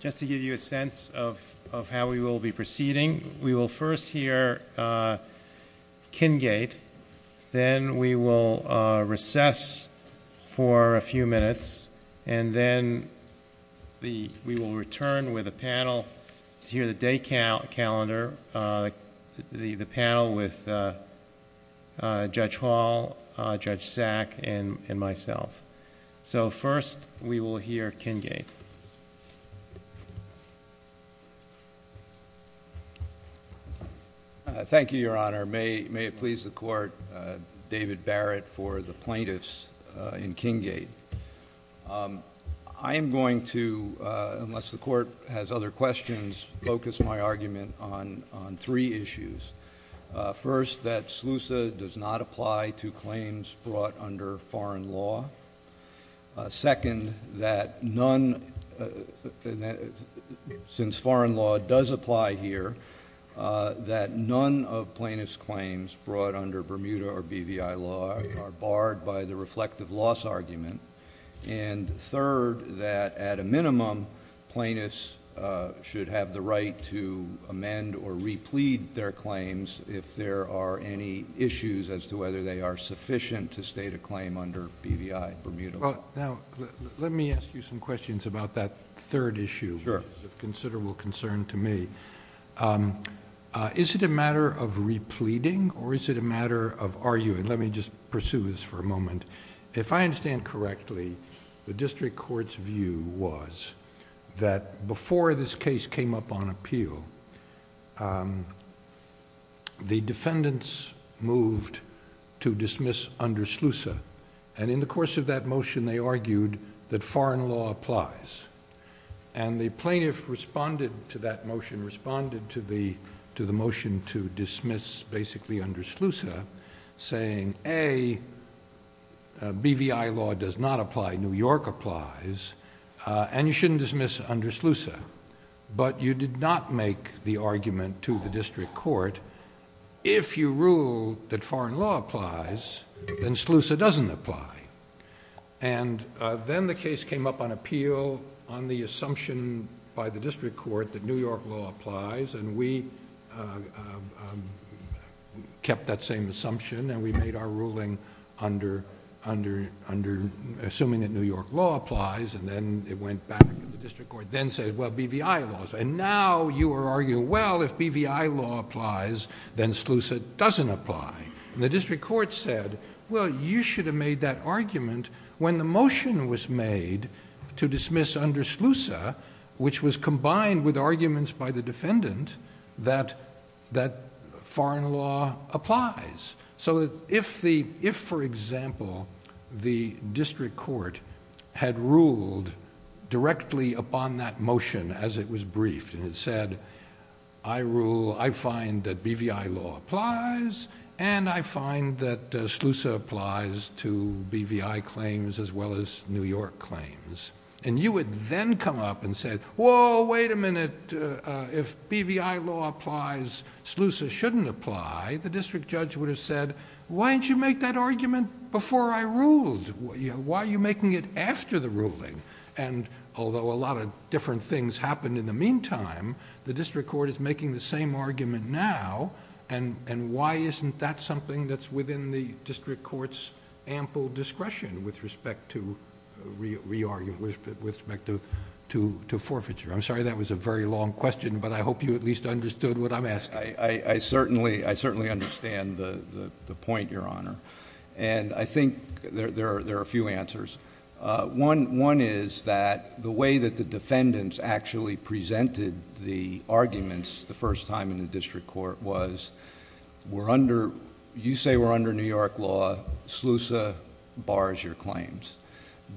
Just to give you a sense of how we will be proceeding, we will first hear Kingate, then we will recess for a few minutes, and then we will return with a panel to hear the day calendar, the panel with Judge Hall, Judge Sack, and myself. So first, we will hear Kingate. Thank you, Your Honor. May it please the Court, David Barrett for the plaintiffs in Kingate. I am going to, unless the Court has other questions, focus my argument on three issues. First, that SLUSA does not apply to claims brought under foreign law. Second, that none, since foreign law does apply here, that none of plaintiff's claims brought under Bermuda or BVI law are barred by the reflective loss argument. And third, that at a minimum, plaintiffs should have the right to amend or replead their claims if there are any issues as to whether they are sufficient to state a claim under BVI, Bermuda law. Now, let me ask you some questions about that third issue, which is of considerable concern to me. Is it a matter of repleading, or is it a matter of arguing? Let me just pursue this for a moment. If I understand correctly, the district court's view was that before this case came up on appeal, the defendants moved to dismiss under SLUSA. And in the course of that motion, they argued that foreign law applies. And the plaintiff responded to that motion, responded to the motion to dismiss basically under SLUSA, saying, A, BVI law does not apply, New York applies, and you shouldn't dismiss under SLUSA. But you did not make the argument to the district court, if you rule that foreign law applies, then SLUSA doesn't apply. And then the case came up on appeal on the assumption by the district court that New York law applies, and we kept that same assumption, and we made our ruling assuming that New York law applies, and then it went back to the district court, then said, well, BVI laws. And now you are arguing, well, if BVI law applies, then SLUSA doesn't apply. And the district court said, well, you should have made that argument when the motion was made to dismiss under SLUSA, which was combined with arguments by the defendant that foreign law applies. So if, for example, the district court had ruled directly upon that motion as it was briefed, and it said, I rule, I find that BVI law applies, and I find that BVI claims as well as New York claims, and you would then come up and say, whoa, wait a minute, if BVI law applies, SLUSA shouldn't apply, the district judge would have said, why didn't you make that argument before I ruled? Why are you making it after the ruling? And although a lot of different things happened in the meantime, the district court is making the same argument now, and why isn't that something that's within the district court's ample discretion with respect to forfeiture? I'm sorry, that was a very long question, but I hope you at least understood what I'm asking. I certainly understand the point, Your Honor, and I think there are a few answers. One is that the way that the defendants actually presented the arguments the first time in the district court was, you say we're under New York law, SLUSA bars your claims.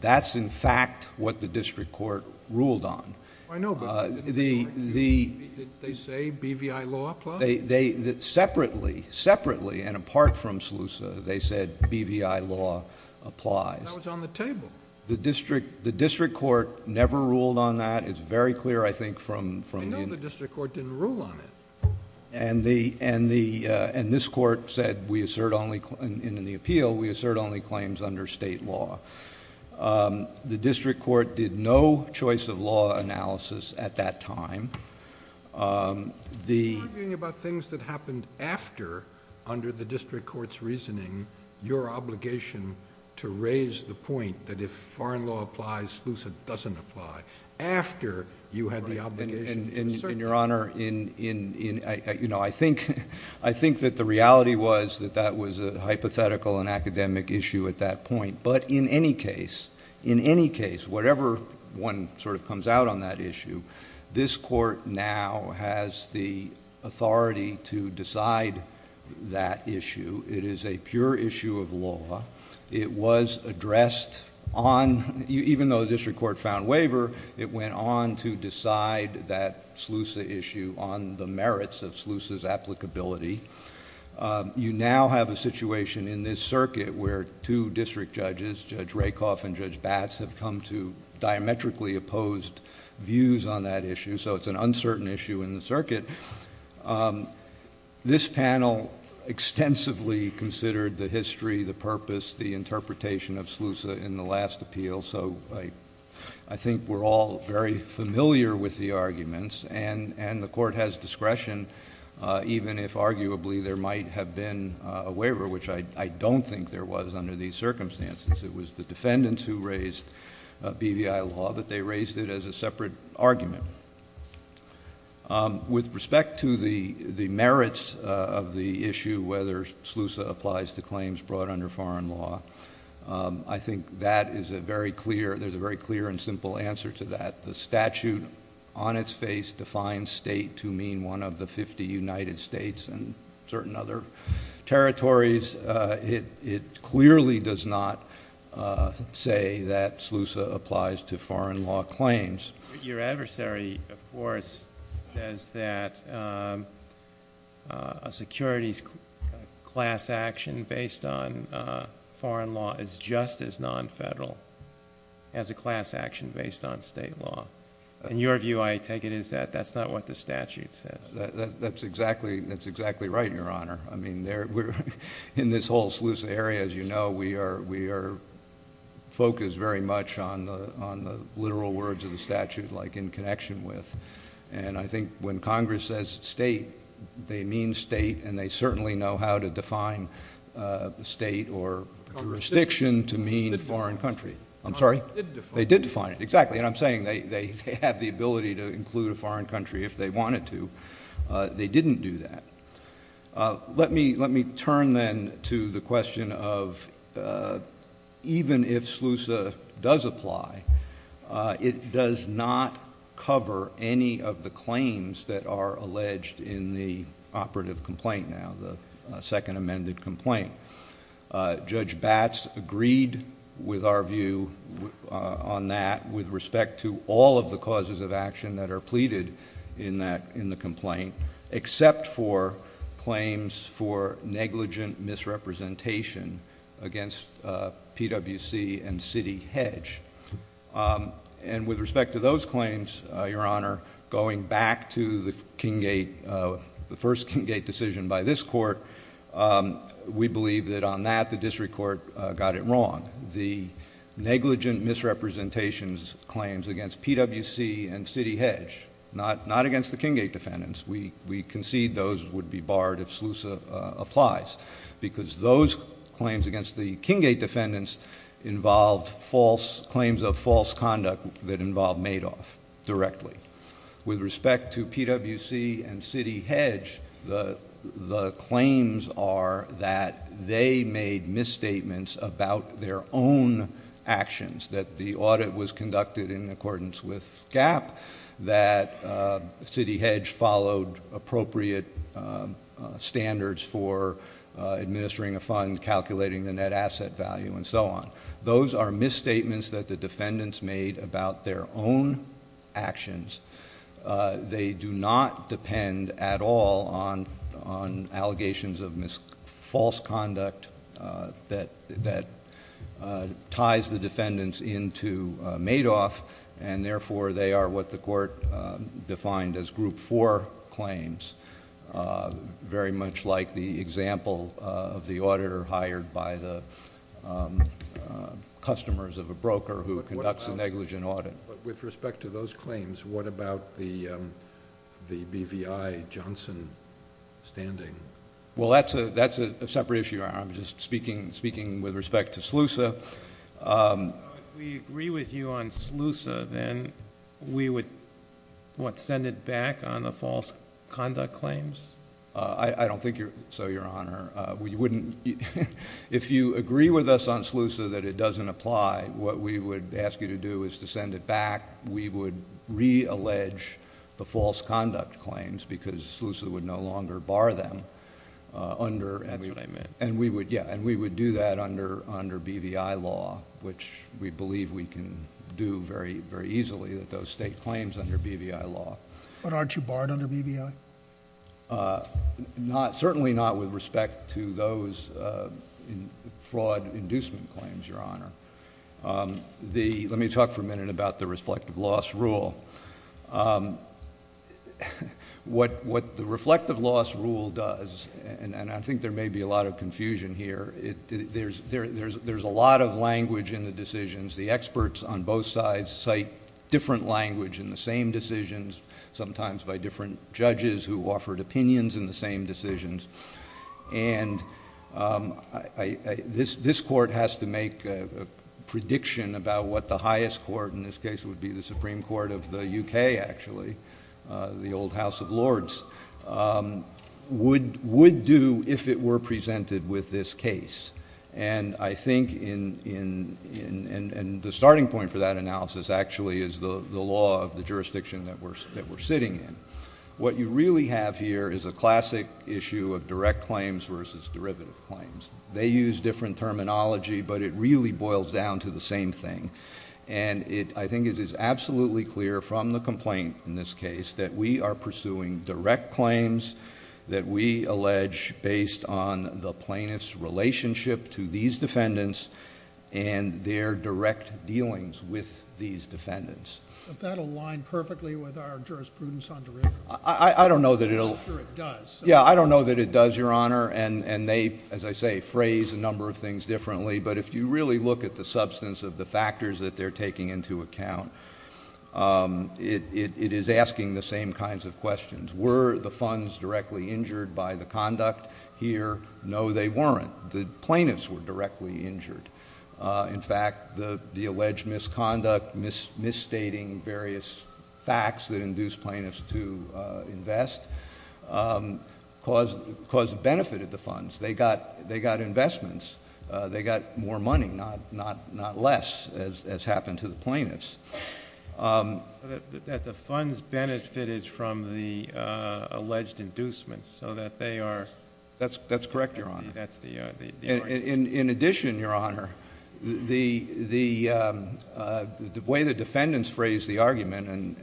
That's in fact what the district court ruled on. I know, but did they say BVI law applies? Separately, and apart from SLUSA, they said BVI law applies. That was on the table. The district court never ruled on that. It's very clear, I think, from—I know the district court didn't rule on it. And this court said, in the appeal, we assert only claims under state law. The district court did no choice of law analysis at that time. You're talking about things that happened after, under the district court's reasoning, your obligation to raise the point that if foreign law applies, SLUSA doesn't apply, after you have the obligation to assert that. Your Honor, I think that the reality was that that was a hypothetical and academic issue at that point. But in any case, in any case, whatever one sort of comes out on that issue, this court now has the authority to decide that issue. It is a pure issue of law. It was addressed on—even though the district court found waiver, it went on to decide that SLUSA issue on the merits of SLUSA's applicability. You now have a situation in this circuit where two district judges, Judge Rakoff and Judge Bass, have come to diametrically opposed views on that issue, so it's an uncertain issue in the circuit. This panel extensively considered the history, the purpose, the interpretation of SLUSA in the last appeal, so I think we're all very familiar with the arguments. And the Court has discretion, even if arguably there might have been a waiver, which I don't think there was under these circumstances. It was the defendants who raised BVI law that they raised it as a separate argument. With respect to the merits of the issue, whether SLUSA applies to claims brought under foreign law, I think that is a very clear—there's a very clear and simple answer to that. The statute on its face defines state to mean one of the 50 United States and certain other territories. It clearly does not say that SLUSA applies to foreign law claims. Your adversary, of course, says that a security class action based on foreign law is just as non-federal as a class action based on state law. In your view, I take it that that's not what the statute says. That's exactly right, Your Honor. I mean, in this whole SLUSA area, as you know, we are focused very much on the literal words of the statute, like in connection with. And I think when Congress says state, they mean state, and they certainly know how to define the state or jurisdiction to mean a foreign country. I'm sorry? They did define it. Exactly. And I'm saying they have the ability to include a foreign country if they wanted to. They didn't do that. Let me turn then to the question of even if SLUSA does apply, it does not cover any of the claims that are alleged in the operative complaint now, the second amended complaint. Judge Batts agreed with our view on that with respect to all of the except for claims for negligent misrepresentation against PwC and Citi Hedge. And with respect to those claims, Your Honor, going back to the Kinggate, the first Kinggate decision by this Court, we believe that on that, the district court got it wrong. The negligent misrepresentations claims against PwC and Citi Hedge, not against the Kinggate defendants. We concede those would be barred if SLUSA applies, because those claims against the Kinggate defendants involved false claims of false conduct that involved Madoff directly. With respect to PwC and Citi Hedge, the claims are that they made misstatements about their own actions, that the audit was conducted in accordance with GAAP, that Citi Hedge followed appropriate standards for administering a fund, calculating the net asset value, and so on. Those are misstatements that were made about their own actions. They do not depend at all on allegations of false conduct that ties the defendants into Madoff, and therefore they are what the Court defined as Group 4 claims, very much like the example of the auditor hired by the customers of a broker who adopts a negligent audit. But with respect to those claims, what about the BVI Johnson standing? Well, that's a separate issue, Your Honor. I'm just speaking with respect to SLUSA. If we agree with you on SLUSA, then we would, what, send it back on the false conduct claims? I don't think so, Your Honor. If you agree with us on SLUSA that it doesn't apply, what we would ask you to do is to send it back. We would re-allege the false conduct claims, because SLUSA would no longer bar them, and we would do that under BVI law, which we believe we can do very easily, those state claims under BVI law. But aren't you barred under BVI? No, certainly not with respect to those fraud inducement claims, Your Honor. Let me talk for a minute about the reflective loss rule. What the reflective loss rule does, and I think there may be a lot of confusion here, there's a lot of language in the decisions. The experts on both sides cite different language in the same decisions, sometimes by different judges who offered opinions in the same decisions, and this Court has to make a prediction about what the highest court in this case would be, the Supreme Court of the UK, actually, the old House of Lords, would do if it were presented with this case. And I think the starting point for that analysis actually is the law of the jurisdiction that we're sitting in. What you really have here is a classic issue of direct claims versus derivative claims. They use different terminology, but it really boils down to the same thing. And I think it is absolutely clear from the complaint in this case that we are pursuing direct claims that we allege based on the plaintiff's relationship to these defendants and their direct dealings with these defendants. But that aligns perfectly with our jurisprudence on derivative claims. I don't know that it does, Your Honor, and they, as I say, phrase a number of things differently, but if you really look at the substance of the factors that they're taking into account, it is asking the same kinds of questions. Were the funds directly injured by the conduct here? No, they weren't. The plaintiffs were directly injured. In fact, the alleged misconduct, misstating various facts that induced plaintiffs to invest, benefited the funds. They got investments. They got more money, not less, as happened to the plaintiffs. That the funds benefited from the alleged inducement so that they are... That's correct, Your Honor. In addition, Your Honor, the way the defendants phrase the argument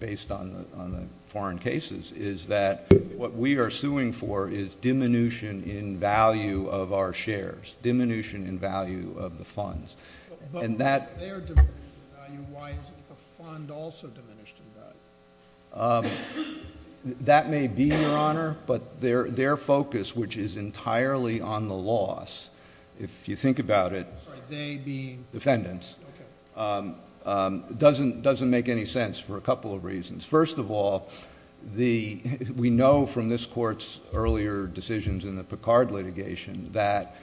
based on the foreign cases is that what we are suing for is diminution in value of our shares, diminution in value of the funds. But if they're diminishing in value, why isn't the fund also diminishing in value? That may be, Your Honor, but their focus, which is entirely on the loss, if you think about it, defendants, doesn't make any sense for a couple of reasons. First of all, we know from this Court's earlier decisions in the Picard litigation that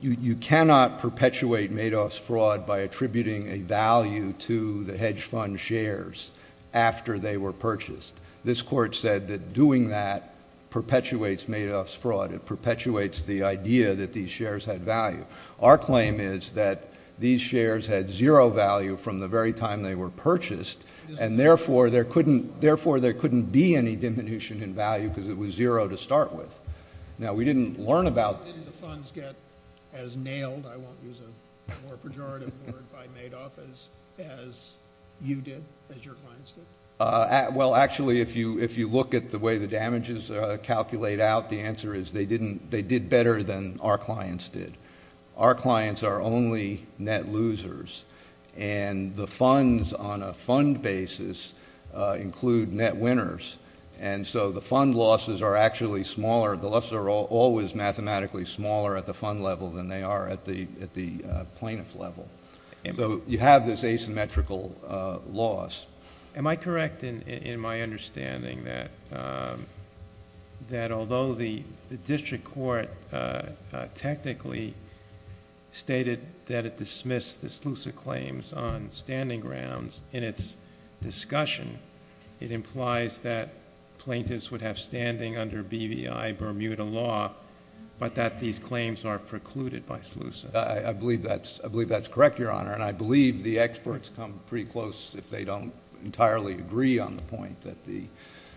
you cannot perpetuate Madoff's fraud by attributing a value to the hedge fund shares after they were purchased. This Court said that doing that perpetuates Madoff's fraud. It perpetuates the idea that these shares had value. Our claim is that these shares had zero value from the very time they were purchased, and therefore, there couldn't be any diminution in value because it was zero to start with. Now, we didn't learn about... Didn't the funds get as nailed, I won't use a more specific term, but the funds got as nailed. So, basically, if you look at the way the damages calculate out, the answer is they did better than our clients did. Our clients are only net losers, and the funds on a fund basis include net winners. And so, the fund losses are actually smaller. The losses are always mathematically smaller at the fund level than they are at the plaintiff level. And so, you have this asymmetrical loss. Am I correct in my understanding that although the district court technically stated that it dismissed the Slusa claims on standing grounds in its discussion, it implies that plaintiffs would have standing under BVI Bermuda Law, but that these claims are precluded by Slusa? I believe that's correct, Your Honor, and I believe the experts come pretty close if they don't entirely agree on the point that the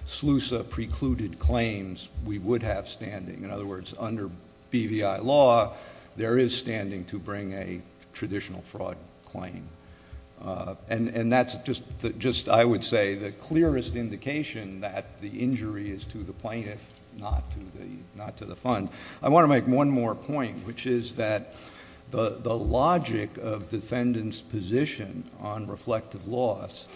Slusa precluded claims, we would have standing. In other words, under BVI Law, there is standing to bring a traditional fraud claim. And that's just, I would say, the clearest indication that the injury is to the plaintiff, not to the fund. I want to make one more point, which is that the logic of defendants' position on reflective loss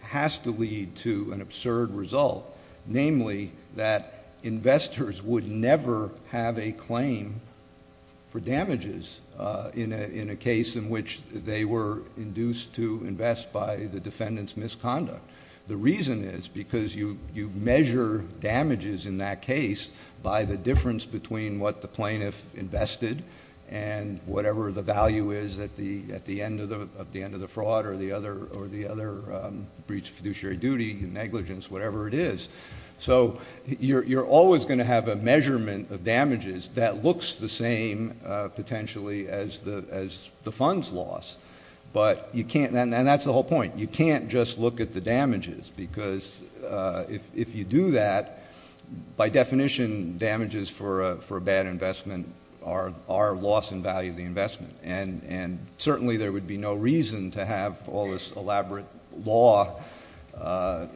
has to lead to an absurd result, namely that investors would never have a claim for damages in a case in which they were induced to invest by the defendant's misconduct. The reason is because you measure damages in that case by the difference between what the plaintiff invested and whatever the value is at the end of the fraud or the other breach of fiduciary duty, negligence, whatever it is. So, you're always going to have a measurement of damages that looks the same, potentially, as the fund's loss, but you can't—and that's the whole point—you can't just look at the damages, because if you do that, by definition, damages for a bad investment are loss in value of the investment. And certainly there would be no reason to have all this elaborate law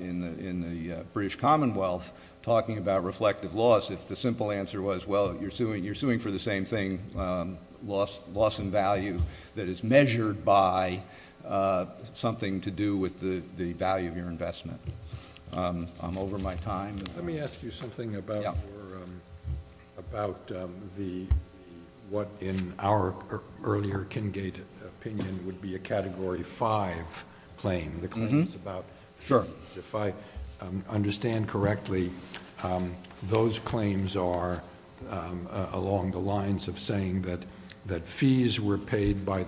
in the British Commonwealth talking about reflective loss if the simple answer was, well, you're suing for the same thing, loss in value that is measured by something to do with the value of your investment. I'm over my time. Let me ask you something about what, in our earlier Kinggate opinion, would be a Category 5 claim. The claim is about, if I understand correctly, those claims are, along the lines of saying that fees were paid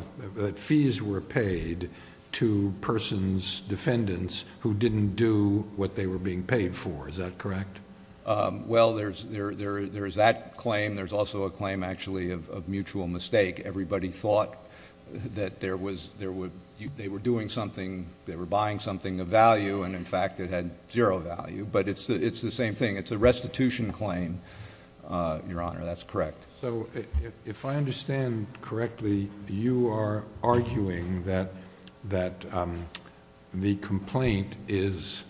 to persons, defendants, who didn't do what they were being paid for. Is that correct? Well, there's that claim. There's also a claim, actually, of mutual mistake. Everybody thought that they were doing something, they were buying something of value, and, in fact, it had zero value. But it's the same thing. It's a restitution claim, Your Honor. That's correct. So if I understand correctly, you are arguing that the complaint is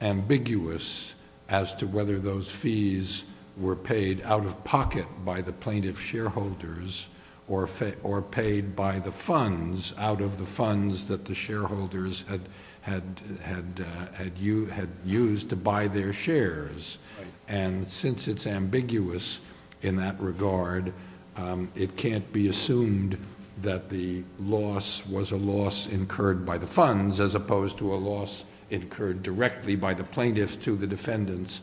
ambiguous as to whether those fees were paid out of pocket by the plaintiff's shareholders or paid by the funds out of the funds that the shareholders had used to buy their shares. And since it's ambiguous in that regard, it can't be assumed that the loss was a loss incurred by the funds, as opposed to a loss incurred directly by the plaintiff to the defendants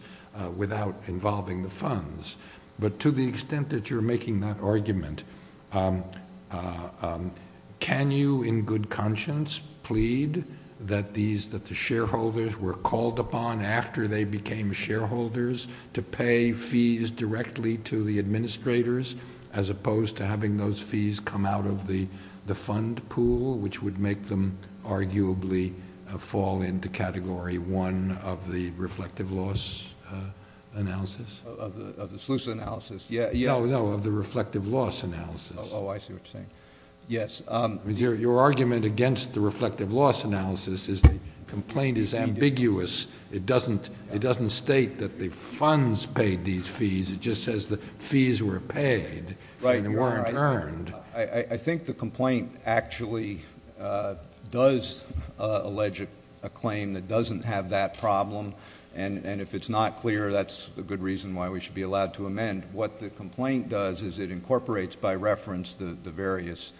without involving the funds. But to the extent that you're making that argument, can you in good conscience plead that the shareholders were called upon after they to pay fees directly to the administrators, as opposed to having those fees come out of the fund pool, which would make them arguably fall into Category 1 of the reflective loss analysis? Of the sluice analysis? Yeah. No, of the reflective loss analysis. Oh, I see what you're saying. Yes. Your argument against the reflective loss analysis is the complaint is ambiguous. It doesn't state that the funds paid these fees. It just says the fees were paid and weren't earned. I think the complaint actually does allege a claim that doesn't have that problem. And if it's not clear, that's a good reason why we should be allowed to amend. What the complaint does is it incorporates by reference the various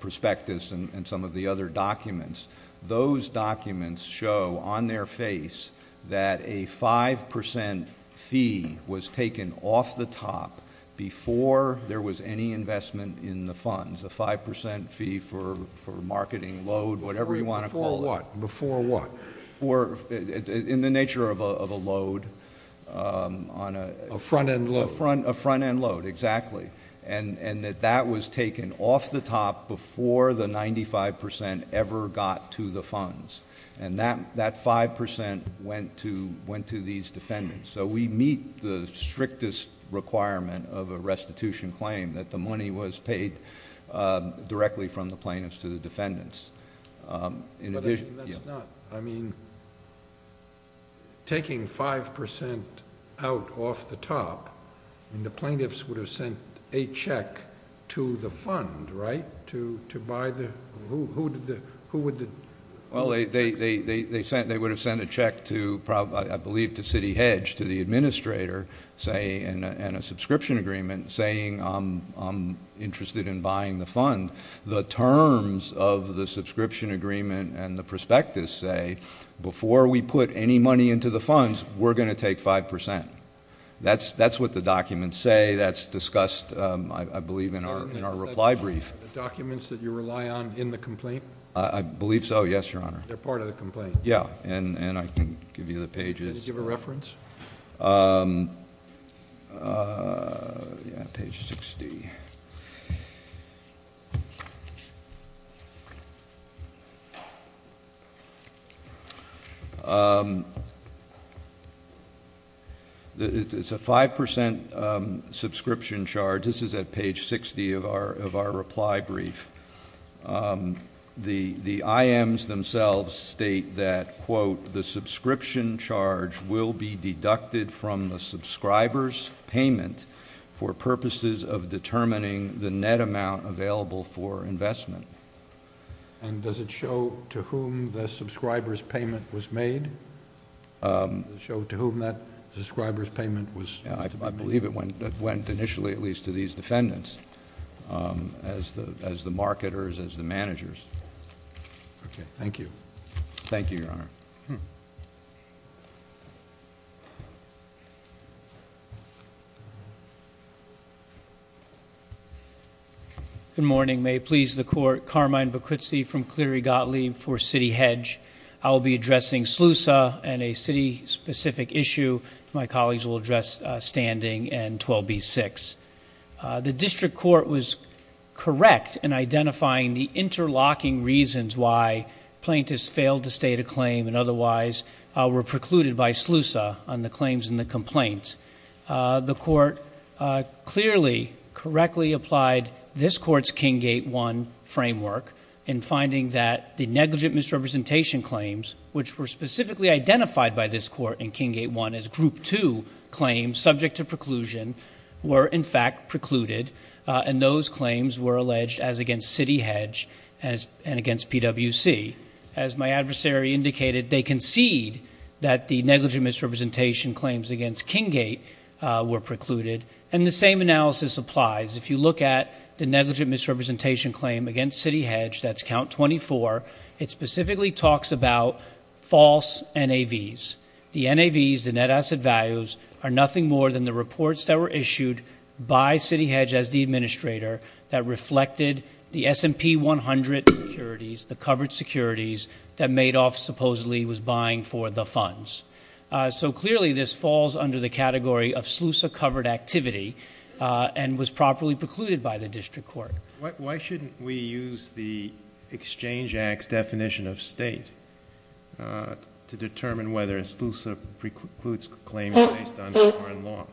prospectus and some of the other documents. Those documents show on their face that a 5% fee was taken off the top before there was any investment in the funds. A 5% fee for marketing, load, whatever you want to call it. Before what? Before what? In the nature of a load. On a front-end load. A front-end load, exactly. And that that was taken off the top before the 95% ever got to the funds. And that 5% went to these defendants. So we meet the strictest requirement of a restitution claim that the money was paid directly from the plaintiffs to the defendants. And that's not, I mean, taking 5% out off the top, and the plaintiffs would have sent a check to the fund, right? To buy the, who would the? Well, they would have sent a check to, I believe, to Citi Hedge, to the administrator, saying, in a subscription agreement, saying, I'm interested in buying the fund. The terms of the subscription agreement and the prospectus say, before we put any money into the funds, we're going to take 5%. That's what the documents say. That's discussed, I believe, in our reply brief. Are the documents that you rely on in the complaint? I believe so, yes, Your Honor. They're part of the complaint. Yeah, and I can give you the pages. Can you give a reference? Page 60. It's a 5% subscription charge. This is at page 60 of our reply brief. The IMs themselves state that, quote, the subscription charge will be deducted from the subscriber's payment for purposes of determining the net amount available for investment. And does it show to whom the subscriber's payment was made? Show to whom that subscriber's payment was, I believe it went initially, at least, to these defendants, as the marketers, as the managers. Okay, thank you. Thank you, Your Honor. Good morning. May it please the Court, Carmine Bakritsi from Cleary Gottlieb for City Hedge. I'll be addressing SLUSA and a city-specific issue. My colleagues will address Standing and 12b-6. The District Court was correct in identifying the interlocking reasons why plaintiffs failed to state a claim and, otherwise, were precluded by SLUSA on the claims in the complaint. The Court clearly, correctly applied this Court's King Gate I framework in finding that the negligent misrepresentation claims, which were specifically identified by this Court in King Gate I as Group II claims subject to preclusion, were, in fact, precluded, and those claims were alleged as against City Hedge and against PwC. As my adversary indicated, they concede that the negligent misrepresentation claims against King Gate were precluded, and the same analysis applies. If you look at the negligent misrepresentation claim against City Hedge, that's count 24, it specifically talks about false NAVs. The NAVs, the net asset values, are nothing more than the reports that were issued by City Hedge as the administrator that reflected the S&P 100 securities, the covered securities that Madoff supposedly was buying for the funds. So, clearly, this falls under the category of SLUSA-covered activity and was properly precluded by the District Court. Why shouldn't we use the Exchange Act's definition of state to determine whether a SLUSA precludes claims based on foreign law?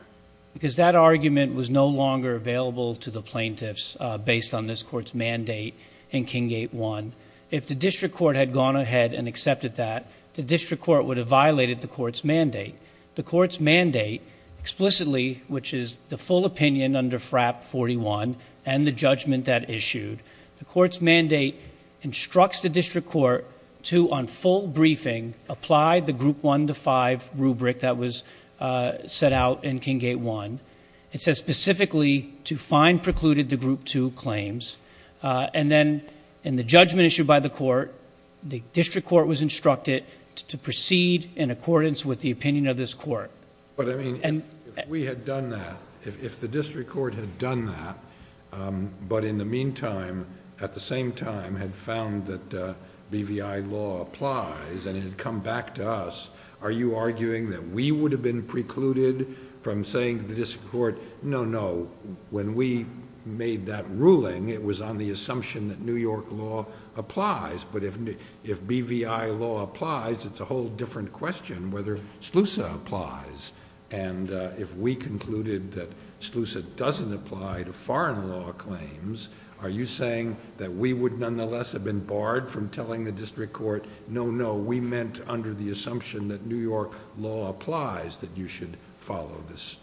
Because that argument was no longer available to the plaintiffs based on this Court's mandate in King Gate I. If the District Court had gone ahead and accepted that, the District Court would have violated the Court's mandate. The Court's mandate explicitly, which is the full opinion under FRAP 41 and the judgment that issued, the Court's mandate instructs the District Court to, on full briefing, apply the Group 1 to 5 rubric that was set out in King Gate I. It says specifically to find precluded the Group 2 claims. And then, in the judgment issued by the Court, the District Court was instructed to proceed in accordance with the opinion of this Court. But, I mean, if we had done that, if the District Court had done that, but in the meantime, at the same time, had found that BVI law applies and had come back to us, are you arguing that we would have been precluded from saying to the District Court, no, no, when we made that ruling, it was on the assumption that New York law applies. But if BVI law applies, it's a whole different question whether SLUSA applies. And if we concluded that SLUSA doesn't apply to foreign law claims, are you saying that we would nonetheless have been barred from telling the District Court, no, no, we meant under the assumption that New York law applies, that you should follow this?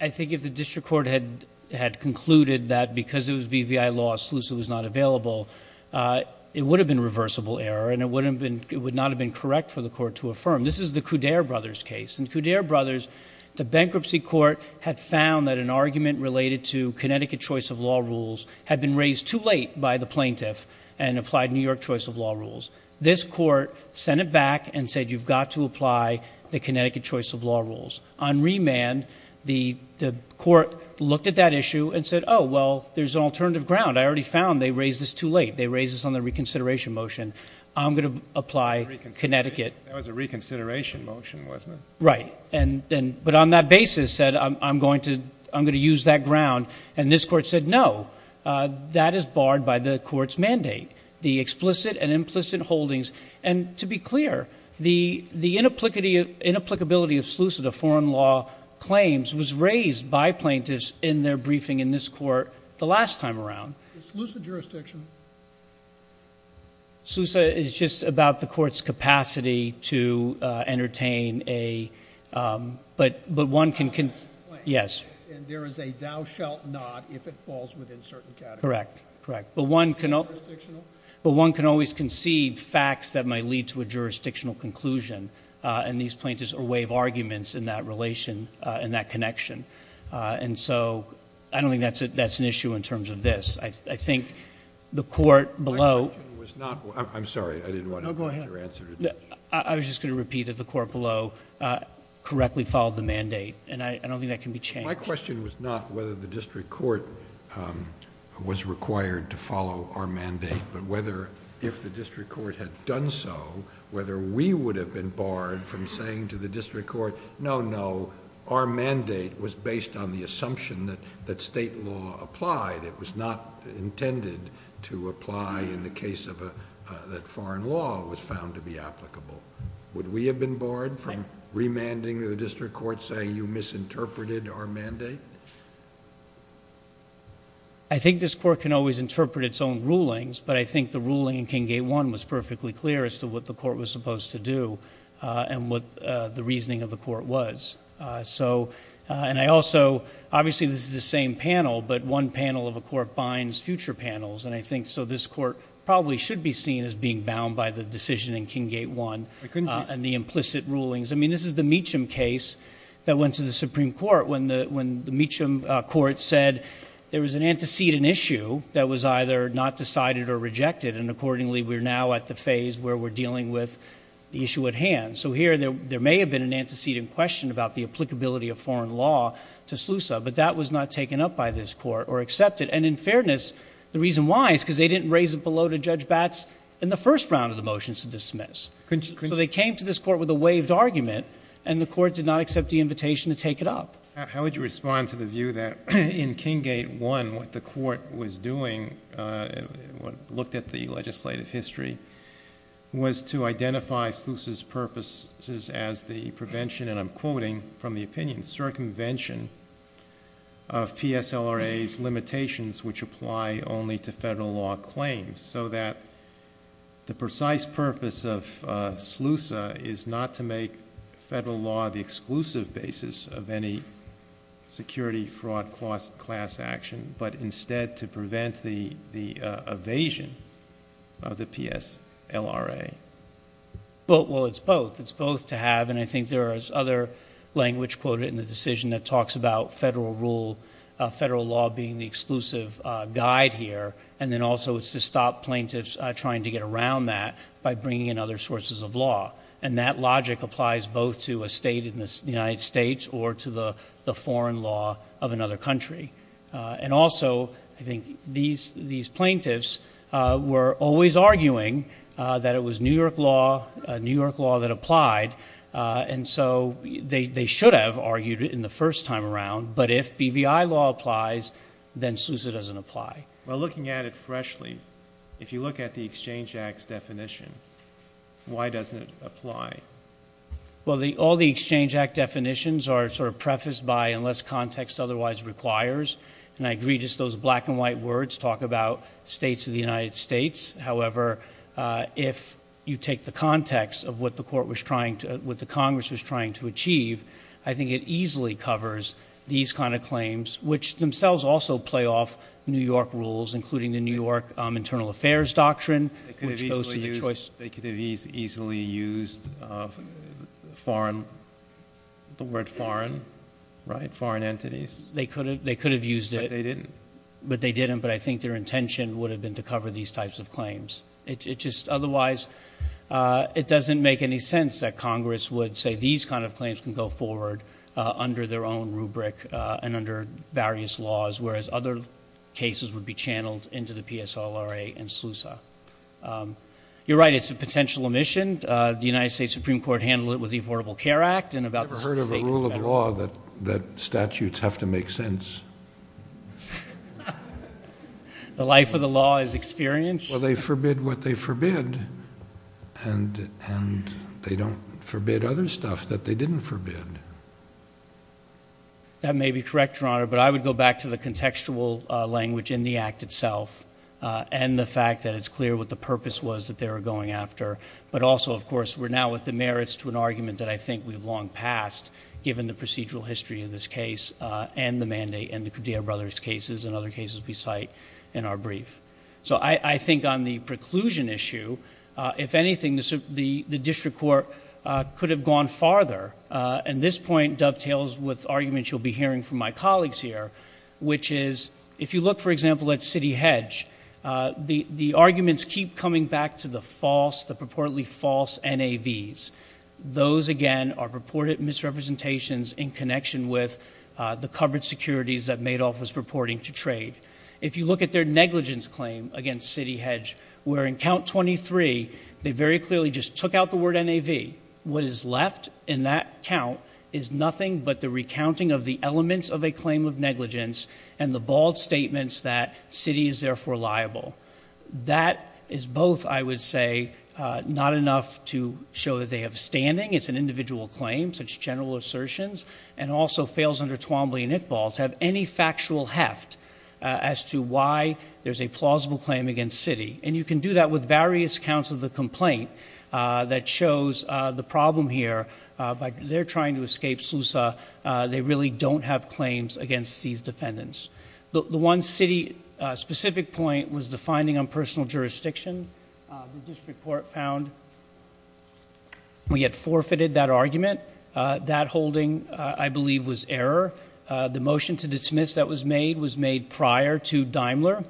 I think if the District Court had concluded that because it was BVI law, SLUSA was not available, it would have been reversible error and it would not have been correct for the Court to affirm. This is the Coudere brothers case. In Coudere brothers, the Bankruptcy Court had found that an argument related to Connecticut choice of law rules had been raised too late by the plaintiff and applied New York choice of law rules. This Court sent it back and said you've got to apply the Connecticut choice of law rules. On remand, the Court looked at that issue and said, oh, well, there's an alternative ground. I already found they raised this too late. They raised this on the reconsideration motion. I'm going to apply Connecticut. That was a reconsideration motion, wasn't it? Right. But on that basis said I'm going to use that ground. And this Court said, no, that is barred by the Court's mandate, the explicit and implicit holdings. And to be clear, the inapplicability of SLUSA, the foreign law claims, was raised by plaintiffs in their briefing in this Court the last time around. Is SLUSA jurisdiction? SLUSA is just about the Court's capacity to entertain a, but one can, yes. And there is a thou shalt not if it falls within certain categories. Correct. But one can always concede facts that might lead to a jurisdictional conclusion. And these plaintiffs are a way of arguments in that relation, in that connection. And so I don't think that's an issue in terms of this. I think the Court below. My question was not, I'm sorry, I didn't want to interrupt your answer. I was just going to repeat that the Court below correctly followed the mandate. And I don't think that can be changed. My question was not whether the district court was required to follow our mandate, but whether if the district court had done so, whether we would have been barred from saying to the district court, no, no, our mandate was based on the assumption that state law applied. It was not intended to apply in the case that foreign law was found to be applicable. Would we have been barred from remanding to the district court, saying you misinterpreted our mandate? I think this Court can always interpret its own rulings, but I think the ruling in King Gate 1 was perfectly clear as to what the Court was supposed to do and what the reasoning of the Court was. So, and I also, obviously, this is the same panel, but one panel of the Court binds future panels. And I think so this Court probably should be seen as being bound by the decision in King Gate 1. And the implicit rulings. This is the Meacham case that went to the Supreme Court, when the Meacham Court said there was an antecedent issue that was either not decided or rejected. And accordingly, we're now at the phase where we're dealing with the issue at hand. So here, there may have been an antecedent question about the applicability of foreign law to SLUSA, but that was not taken up by this Court or accepted. And in fairness, the reason why is because they didn't raise it below to Judge Batts in the first round of the motions to dismiss. So they came to this Court with a waived argument, and the Court did not accept the invitation to take it up. How would you respond to the view that in King Gate 1, what the Court was doing, looked at the legislative history, was to identify SLUSA's purposes as the prevention, and I'm quoting from the opinion, circumvention of TSLRA's limitations, which apply only to federal law claims. So that the precise purpose of SLUSA is not to make federal law the exclusive basis of any security fraud class action, but instead to prevent the evasion of the TSLRA. Well, it's both. It's both to have, and I think there is other language quoted in the decision that talks about federal rule, federal law being the exclusive guide here. And then also it's to stop plaintiffs trying to get around that by bringing in other sources of law. And that logic applies both to a state in the United States or to the foreign law of another country. And also, I think these plaintiffs were always arguing that it was New York law, New York law that applied. And so they should have argued it in the first time around. But if BVI law applies, then SLUSA doesn't apply. Well, looking at it freshly, if you look at the Exchange Act's definition, why doesn't it apply? Well, all the Exchange Act definitions are sort of prefaced by unless context otherwise requires. And I agree, just those black and white words talk about states of the United States. However, if you take the context of what the court was trying to, what the Congress was trying to achieve, I think it easily covers these kinds of claims, which themselves also play off New York rules, including the New York Internal Affairs Doctrine. They could have easily used the word foreign, right? Foreign entities. They could have used it. But they didn't. But I think their intention would have been to cover these types of claims. Otherwise, it doesn't make any sense that Congress would say these kinds of claims can go forward under their own rubric and under various laws, whereas other cases would be channeled into the PSLRA and SLUSA. You're right, it's a potential omission. The United States Supreme Court handled it with the Affordable Care Act. I've never heard of a rule of law that statutes have to make sense. The life of the law is experience. Well, they forbid what they forbid. And they don't forbid other stuff that they didn't forbid. That may be correct, Your Honor, but I would go back to the contextual language in the act itself and the fact that it's clear what the purpose was that they were going after. But also, of course, we're now at the merits to an argument that I think we've long passed, given the procedural history of this case and the mandate and the Cudillo brothers' cases and other cases we cite in our brief. So I think on the preclusion issue, if anything, the district court could have gone farther and this point dovetails with arguments you'll be hearing from my colleagues here, which is, if you look, for example, at Citi Hedge, the arguments keep coming back to the false, the purportedly false NAVs. Those, again, are purported misrepresentations in connection with the covered securities that Madoff was purporting to trade. If you look at their negligence claim against Citi Hedge, where in count 23, they very clearly just took out the word NAV. What is left in that count is nothing but the recounting of the elements of a claim of negligence and the bald statements that Citi is therefore liable. That is both, I would say, not enough to show that they have standing. It's an individual claim, such general assertions, and also fails under Twombly and Iqbal to have any factual heft as to why there's a plausible claim against Citi. And you can do that with various counts of the complaint that shows the problem here. But they're trying to escape SUSA. They really don't have claims against these defendants. The one Citi specific point was the finding on personal jurisdiction. The district court found we had forfeited that argument. That holding, I believe, was error. The motion to dismiss that was made was made prior to Daimler.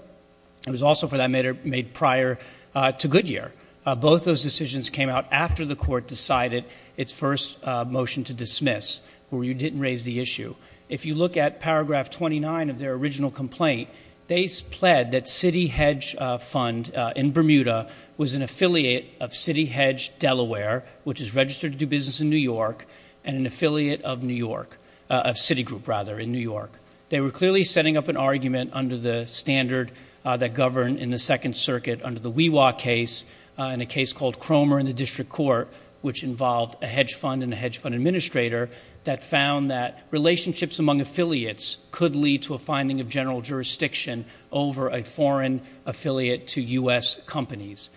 It was also, for that matter, made prior to Goodyear. Both those decisions came out after the court decided its first motion to dismiss, where you didn't raise the issue. If you look at paragraph 29 of their original complaint, they pled that Citi Hedge Fund in Bermuda was an affiliate of Citi Hedge Delaware, which is registered to do business in New York, and an affiliate of New York, of Citi Group, rather, in New York. They were clearly setting up an argument under the standard that governed in the Second Circuit under the WeWa case, in a case called Cromer in the district court, which involved a hedge fund and a hedge fund administrator, that found that relationships among affiliates could lead to a finding of general jurisdiction over a foreign affiliate to U.S. companies.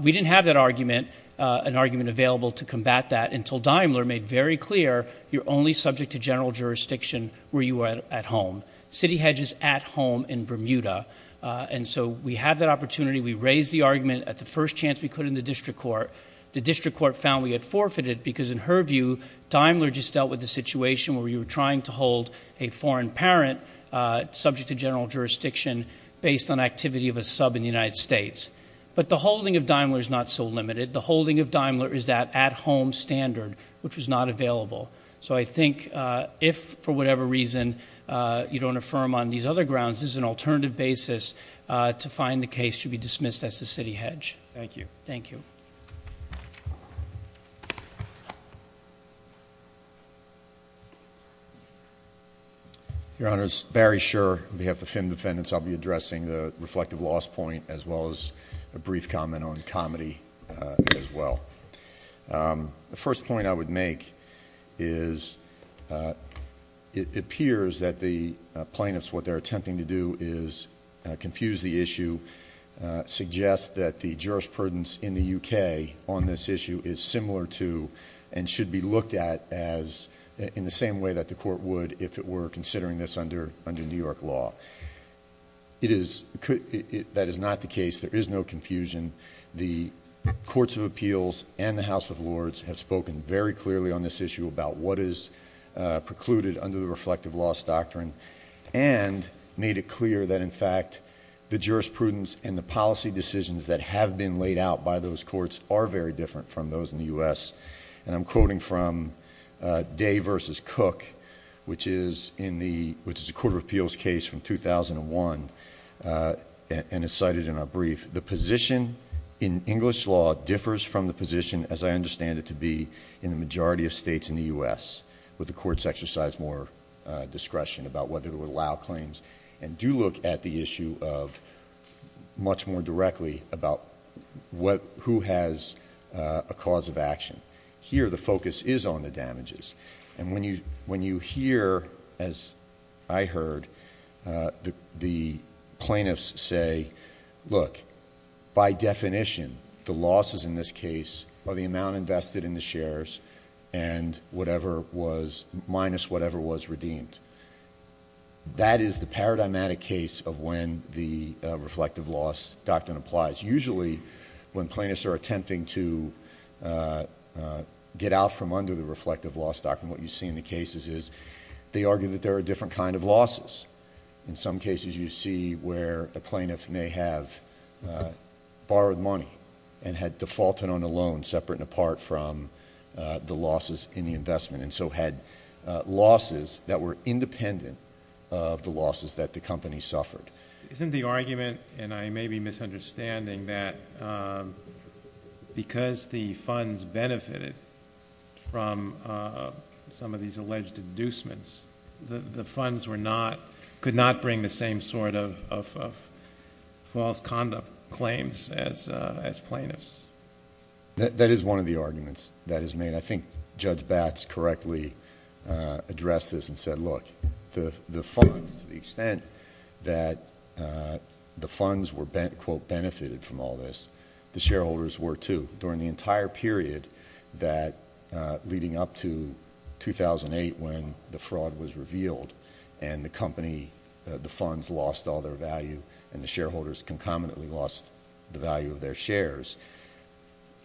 We didn't have that argument, an argument available to combat that, until Daimler made very clear, you're only subject to general jurisdiction where you are at home. Citi Hedge is at home in Bermuda. And so we have that opportunity. We raised the argument at the first chance we could in the district court. The district court found we had forfeited, because in her view, Daimler just dealt with the situation where you were trying to hold a foreign parent subject to general jurisdiction based on activity of a sub in the United States. But the holding of Daimler is not so limited. The holding of Daimler is that at-home standard, which was not available. So I think if, for whatever reason, you don't affirm on these other grounds, as an alternative basis, to find the case should be dismissed as to Citi Hedge. Thank you. Thank you. Your Honor, it's very sure on behalf of the defendants, I'll be addressing the reflective loss point, as well as a brief comment on comedy as well. The first point I would make is it appears that the plaintiffs, what they're attempting to do is confuse the issue, suggest that the jurisprudence in the UK on this issue is similar to and should be looked at as in the same way that the court would if it were considering this under New York law. That is not the case. There is no confusion. The courts of appeals and the House of Lords have spoken very clearly on this issue about what is precluded under the reflective loss doctrine and made it clear that, in fact, the jurisprudence and the policy decisions that have been laid out by those courts are very different from those in the U.S. And I'm quoting from Day v. Cook, which is a court of appeals case from 2001 and it's cited in our brief. The position in English law differs from the position, as I understand it to be, in the majority of states in the U.S., where the courts exercise more discretion about whether to allow claims and do look at the issue much more directly about who has a cause of action. Here, the focus is on the damages. And when you hear, as I heard, the plaintiffs say, look, by definition, the losses in this case are the amount invested in the shares and whatever was minus whatever was redeemed. That is the paradigmatic case of when the reflective loss doctrine applies. Usually, when plaintiffs are attempting to get out from under the reflective loss doctrine, what you see in the cases is they argue that there are different kind of losses. In some cases, you see where a plaintiff may have borrowed money and had defaulted on a loan separate and apart from the losses in the investment and so had losses that were independent of the losses that the company suffered. Isn't the argument, and I may be misunderstanding, that because the funds benefited from some of these alleged inducements, the funds could not bring the same sort of false conduct claims as plaintiffs? That is one of the arguments that is made. I think Judge Batts correctly addressed this and said, look, to the extent that the funds were, quote, benefited from all this, the shareholders were too. During the entire period leading up to 2008 when the fraud was revealed and the company, the funds lost all their value and the shareholders concomitantly lost the value of their shares,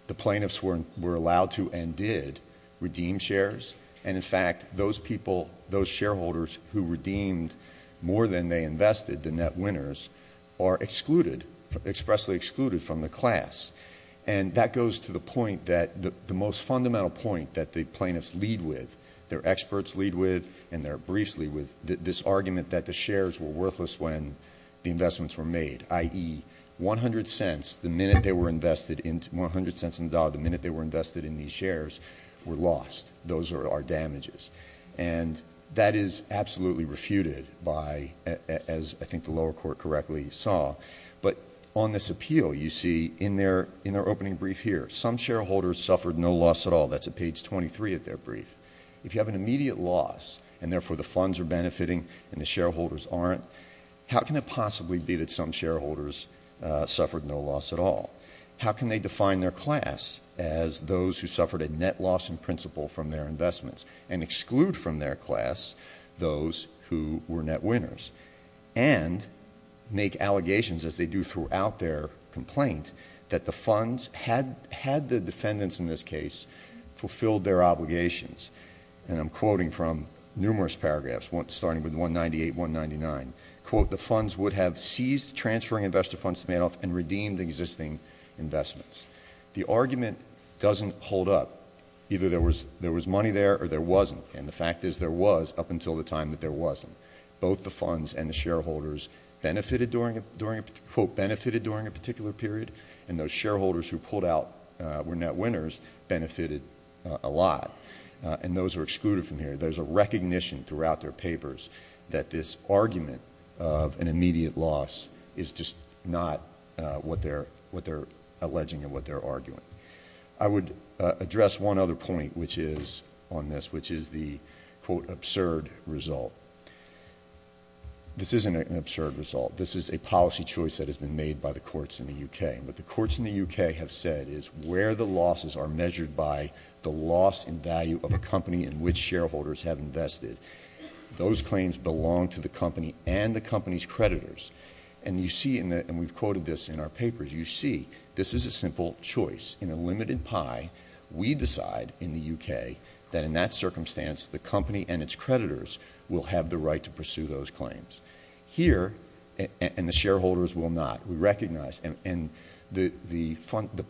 the plaintiffs were allowed to and did redeem shares. And in fact, those people, those shareholders who redeemed more than they invested, the net winners, are excluded, expressly excluded from the class. And that goes to the point that the most fundamental point that the plaintiffs lead with, their experts lead with, and they're briefly with, this argument that the shares were worthless when the investments were made, i.e. 100 cents, the minute they were invested in, 100 cents endowed, the minute they were invested in these shares were lost. Those are our damages. And that is absolutely refuted by, as I think the lower court correctly saw, but on this appeal, you see in their opening brief here, some shareholders suffered no loss at all. That's at page 23 of their brief. If you have an immediate loss and therefore the funds are benefiting and the shareholders aren't, how can it possibly be that some shareholders suffered no loss at all? How can they define their class as those who suffered a net loss in principle from their investments and exclude from their class those who were net winners and make allegations as they do throughout their complaint that the funds had the defendants in this case fulfilled their obligations. And I'm quoting from numerous paragraphs, starting with 198, 199, quote, the funds would have seized transferring investor funds to bail off and redeemed existing investments. The argument doesn't hold up. Either there was money there or there wasn't. And the fact is there was up until the time that there wasn't. Both the funds and the shareholders benefited during a particular period. And those shareholders who pulled out were net winners, benefited a lot. And those are excluded from here. There's a recognition throughout their papers that this argument of an immediate loss is just not what they're alleging and what they're arguing. I would address one other point, which is on this, which is the quote, absurd result. This isn't an absurd result. This is a policy choice that has been made by the courts in the UK. What the courts in the UK have said is where the losses are measured by the loss in value of a company in which shareholders have invested. Those claims belong to the company and the company's creditors. And you see in that, and we've quoted this in our papers, you see this is a simple choice in a limited pie. We decide in the UK that in that circumstance, the company and its creditors will have the right to pursue those claims. Here, and the shareholders will not. We recognize. And the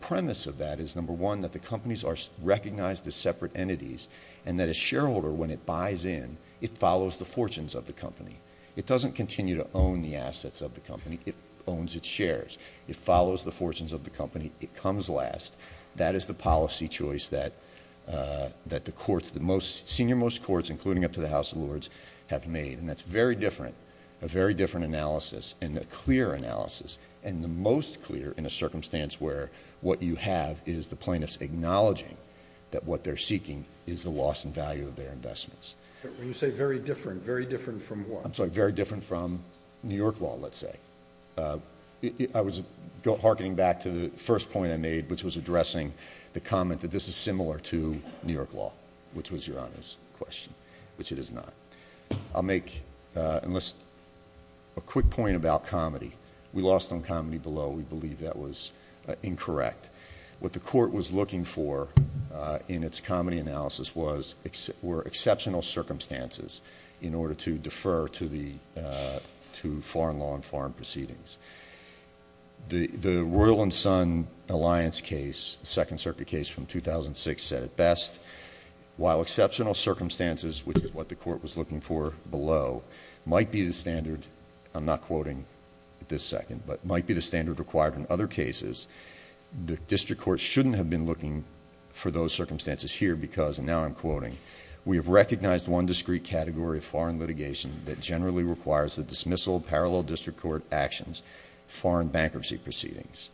premise of that is number one, that the companies are recognized as separate entities and that a shareholder, when it buys in, it follows the fortunes of the company. It doesn't continue to own the assets of the company. It owns its shares. It follows the fortunes of the company. It comes last. That is the policy choice that the courts, the most senior, most courts, including up to the House of Lords, have made. And that's very different, a very different analysis and a clear analysis and the most clear in a circumstance where what you have is the plaintiffs acknowledging that what they're seeking is the loss in value of their investments. When you say very different, very different from what? I'm sorry, very different from New York law, let's say. I was hearkening back to the first point I made, which was addressing the comment that this is similar to New York law, which was your honest question, which it is not. I'll make a quick point about comedy. We lost on comedy below. We believe that was incorrect. What the court was looking for in its comedy analysis were exceptional circumstances in order to defer to foreign law and foreign proceedings. The Royal and Son Alliance case, the Second Circuit case from 2006, said it best. While exceptional circumstances, which is what the court was looking for below, might be the standard, I'm not quoting at this second, but might be the standard required in other cases, the district court shouldn't have been looking for those circumstances here because, and now I'm quoting, we have recognized one discrete category of foreign litigation that generally requires the dismissal of parallel district court actions, foreign bankruptcy proceedings.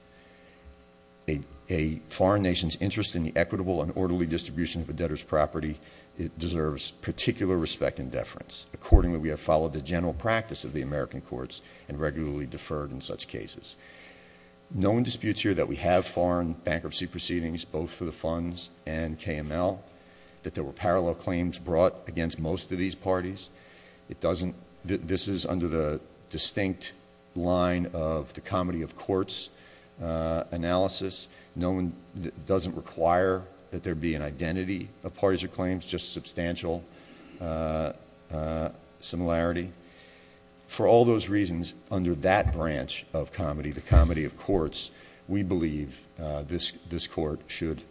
A foreign nation's interest in the equitable and orderly distribution of a debtor's property, it deserves particular respect and deference. Accordingly, we have followed the general practice of the American courts and regularly deferred in such cases. No one disputes here that we have foreign bankruptcy proceedings, both for the funds and KML, that there were parallel claims brought against most of these parties. It doesn't, this is under the distinct line of the comedy of courts analysis. No one doesn't require that there be an identity of parties or claims, just substantial similarity. For all those reasons, under that branch of comedy, the comedy of courts, we believe this court should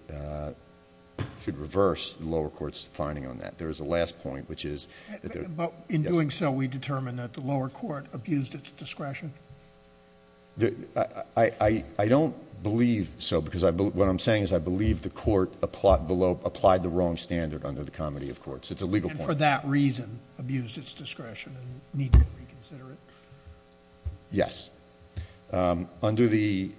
reverse the lower court's finding on that. There's a last point, which is- But in doing so, we determined that the lower court abused its discretion. I don't believe so because what I'm saying is I believe the court applied the wrong standard under the comedy of courts. It's a legal point. For that reason, abused its discretion and needed to be considered. Yes. Under the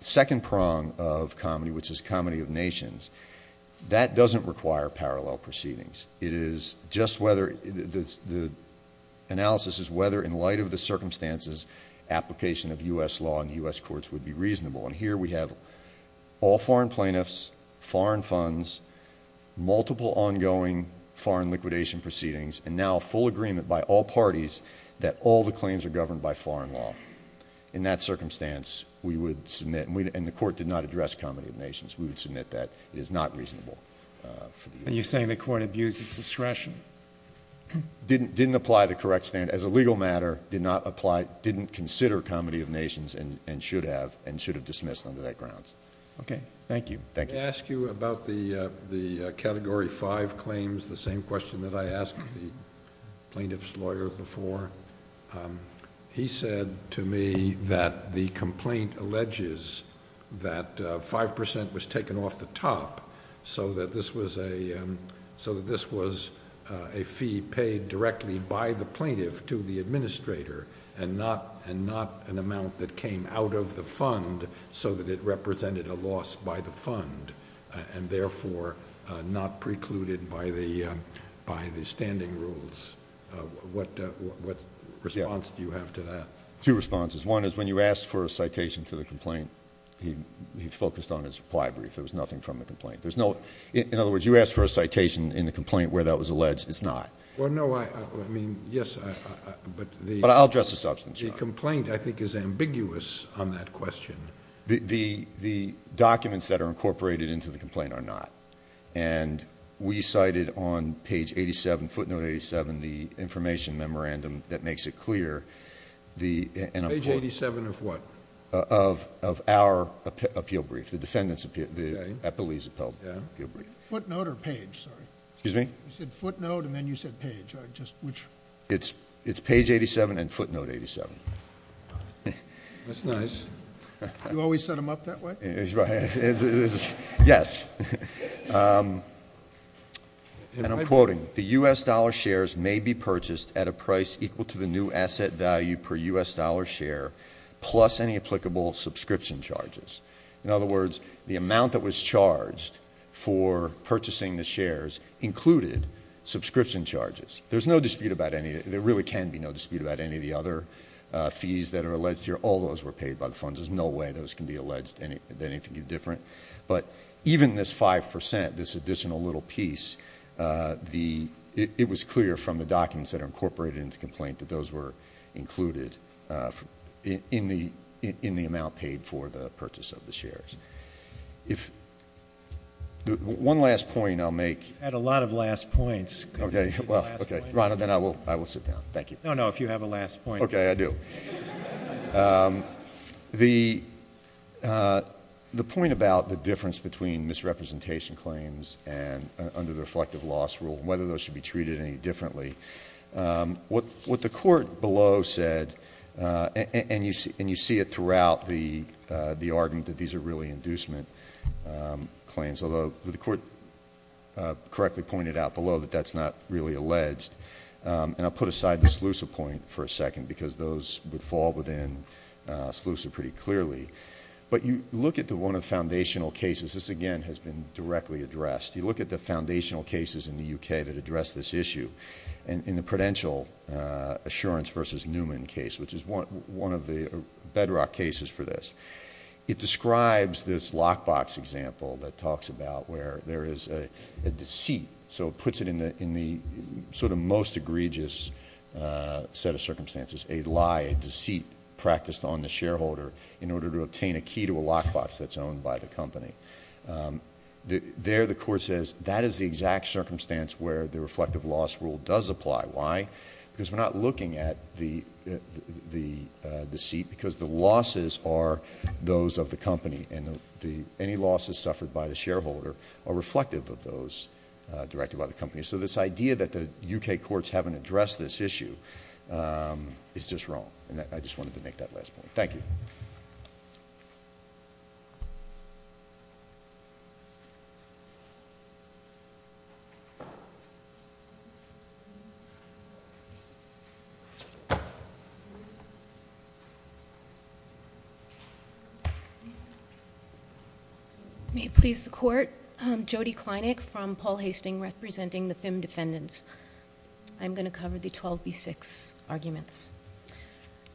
second prong of comedy, which is comedy of nations, that doesn't require parallel proceedings. It is just whether, the analysis is whether in light of the circumstances, application of U.S. law and U.S. courts would be reasonable. And here we have all foreign plaintiffs, foreign funds, multiple ongoing foreign liquidation proceedings, and now full agreement by all parties that all the claims are governed by foreign law. In that circumstance, we would submit, and the court did not address comedy of nations, we would submit that it is not reasonable. Are you saying the court abused its discretion? Didn't apply the correct standard. As a legal matter, did not apply, didn't consider comedy of nations and should have, and should have dismissed under that grounds. Okay. Thank you. Can I ask you about the category five claims, the same question that I asked plaintiff's lawyer before. He said to me that the complaint alleges that 5% was taken off the top, so that this was a, so that this was a fee paid directly by the plaintiff to the administrator and not an amount that came out of the fund, so that it represented a loss by the fund and therefore not precluded by the standing rules. What response do you have to that? Two responses. One is when you asked for a citation to the complaint, he focused on his plied brief. There was nothing from the complaint. There's no, in other words, you asked for a citation in the complaint where that was alleged. It's not. Well, no, I mean, yes, I'll address the substance. The complaint, I think, is ambiguous on that question. The documents that are incorporated into the complaint are not. And we cited on page 87, footnote 87, the information memorandum that makes it clear the page 87 of what of of our appeal brief, the defendant's appeal, the appellee's appeal. Footnote or page. Sorry, excuse me. You said footnote, and then you said page, right? Just which it's, it's page 87 and footnote 87. That's nice. You always set them up that way. Go ahead. Yes. And I'm quoted, the U.S. dollar shares may be purchased at a price equal to the new asset value per U.S. dollar share, plus any applicable subscription charges. In other words, the amount that was charged for purchasing the shares included subscription charges. There's no dispute about any, there really can be no dispute that are alleged here. All those were paid by the funds. There's no way those can be alleged that anything is different. But even this 5%, this additional little piece, the, it was clear from the documents that are incorporated in the complaint that those were included in the, in the amount paid for the purchase of the shares. If one last point I'll make. Had a lot of last points. Okay, well, okay. Robert, then I will, I will sit down. Thank you. No, no. If you have a last point. Okay, I do. The, the point about the difference between misrepresentation claims and under the reflective loss rule, whether those should be treated any differently. What, what the court below said, and you see, and you see it throughout the, the argument that these are really inducement claims, although the court correctly pointed out below that that's not really alleged. And I'll put aside the exclusive point for a second, because those would fall within exclusive pretty clearly. But you look at the one of foundational cases. This again has been directly addressed. You look at the foundational cases in the UK that address this issue and in the prudential assurance versus Newman case, which is one, one of the bedrock cases for this. It describes this lockbox example that talks about where there is a deceit. So it puts it in the, in the sort of most egregious set of circumstances, a lie, a deceit practiced on the shareholder in order to obtain a key to a lockbox that's owned by the company. There, the court says that is the exact circumstance where the reflective loss rule does apply. Why? Because we're not looking at the, the, the seat because the losses are those of the company and the, any losses suffered by the shareholder are reflective of those directed by the company. So this idea that the UK courts haven't addressed this issue is just wrong. And I just wanted to make that last point. Thank you. May it please the court, Jody Kleinex from Paul Hastings representing the FIM defendants. I'm going to cover the 12B6 arguments.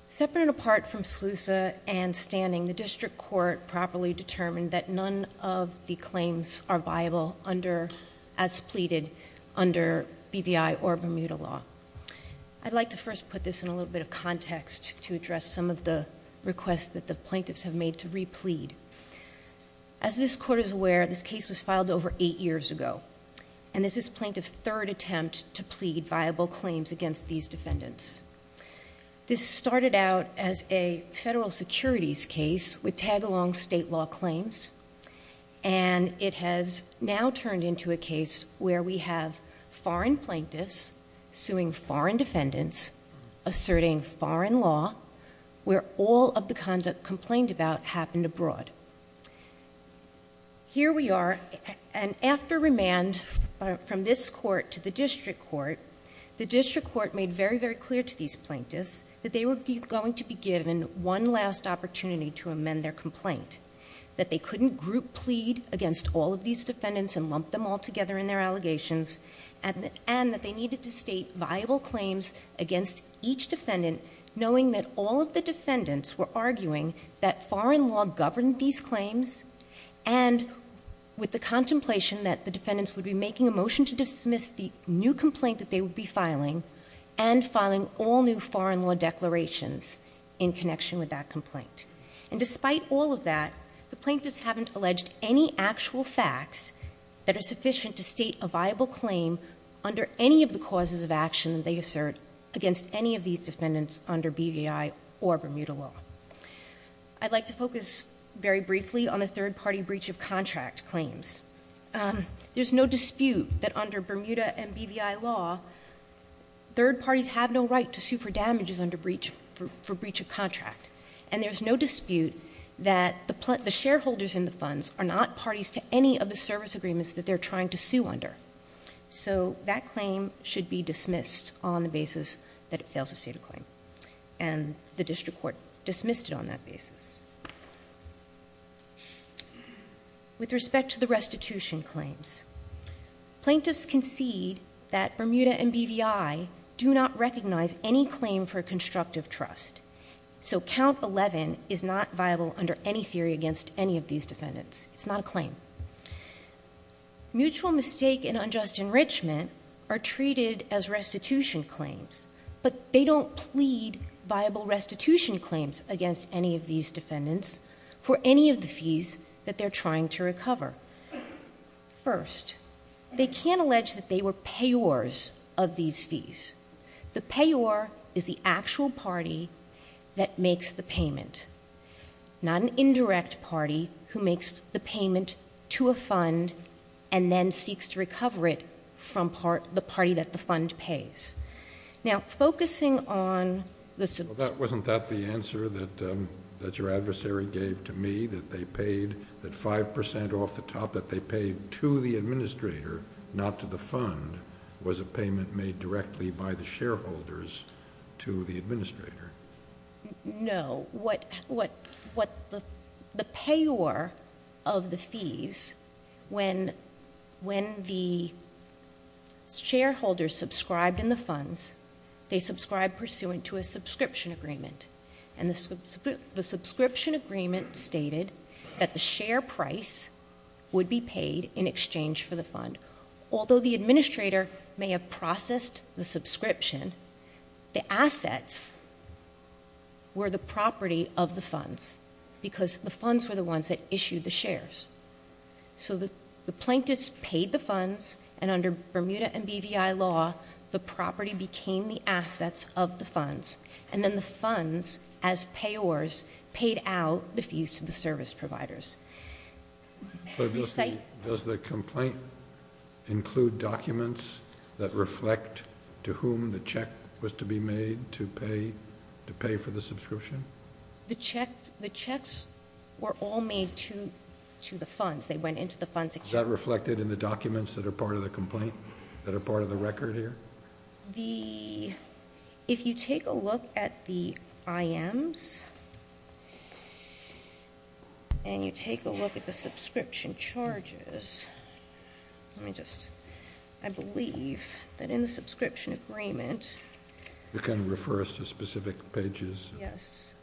Separate and apart from Slusa and Stanning, the district court properly determined that none of the claims are viable under, as pleaded under BVI or Bermuda law. I'd like to first put this in a little bit of context to address some of the requests that the plaintiffs have made to replead. As this court is aware, this case was filed over eight years ago. And this is plaintiff's third attempt to plead viable claims against these defendants. This started out as a federal securities case with tag along state law claims. And it has now turned into a case where we have foreign plaintiffs suing foreign defendants, asserting foreign law, where all of the conduct complained about happened abroad. Here we are. And after remand from this court to the district court, the district court made very, very clear to these plaintiffs that they would be going to be given one last opportunity to amend their complaint. That they couldn't group plead against all of these defendants and lump them all together in their allegations. And that they needed to state viable claims against each defendant, knowing that all of the defendants were arguing that foreign law governed these claims. And with the contemplation that the defendants would be making a motion to dismiss the new complaint that they would be filing and filing all new foreign law declarations in connection with that complaint. And despite all of that, the plaintiffs haven't alleged any actual facts that are sufficient to state a viable claim under any of the causes of action they assert against any of these defendants under BVI or Bermuda Law. I'd like to focus very briefly on the third party breach of contract claims. There's no dispute that under Bermuda and BVI Law, third parties have no right to sue for damages under breach for breach of contract. And there's no dispute that the shareholders in the funds are not parties to any of the service agreements that they're trying to sue under. So that claim should be dismissed on the basis that it fails to state a claim. And the district court dismissed it on that basis. With respect to the restitution claims, plaintiffs concede that Bermuda and BVI do not recognize any claim for constructive trust. So count 11 is not viable under any theory against any of these defendants. It's not a claim. Mutual mistake and unjust enrichment are treated as restitution claims, but they don't plead viable restitution claims against any of these defendants for any of the fees that they're trying to recover. First, they can't allege that they were payors of these fees. The payor is the actual party that makes the payment, not an indirect party who makes the payment to a fund and then seeks to recover it from the party that the fund pays. Now, focusing on... Well, wasn't that the answer that your adversary gave to me, that they paid, that 5% off the top that they paid to the administrator, not to the fund, was a payment made directly by the shareholders to the administrator? No. The payor of the fees, when the shareholders subscribe in the funds, they subscribe pursuant to a subscription agreement. And the subscription agreement stated that the share price would be paid in exchange for the fund. Although the administrator may have processed the subscription, the assets were the property of the funds because the funds were the ones that issued the shares. So the plaintiffs paid the funds and under Bermuda and BVI law, the property became the assets of the funds. And then the funds as payors paid out the fees to the service providers. Does the complaint include documents that reflect to whom the check was to be made to pay for the subscription? The checks were all made to the funds. They went into the funds. Is that reflected in the documents that are part of the complaint, that are part of the record here? The... If you take a look at the IMs and you take a look at the subscription charges, let me just... I believe that in the subscription agreement... You can refer us to specific pages. Yes.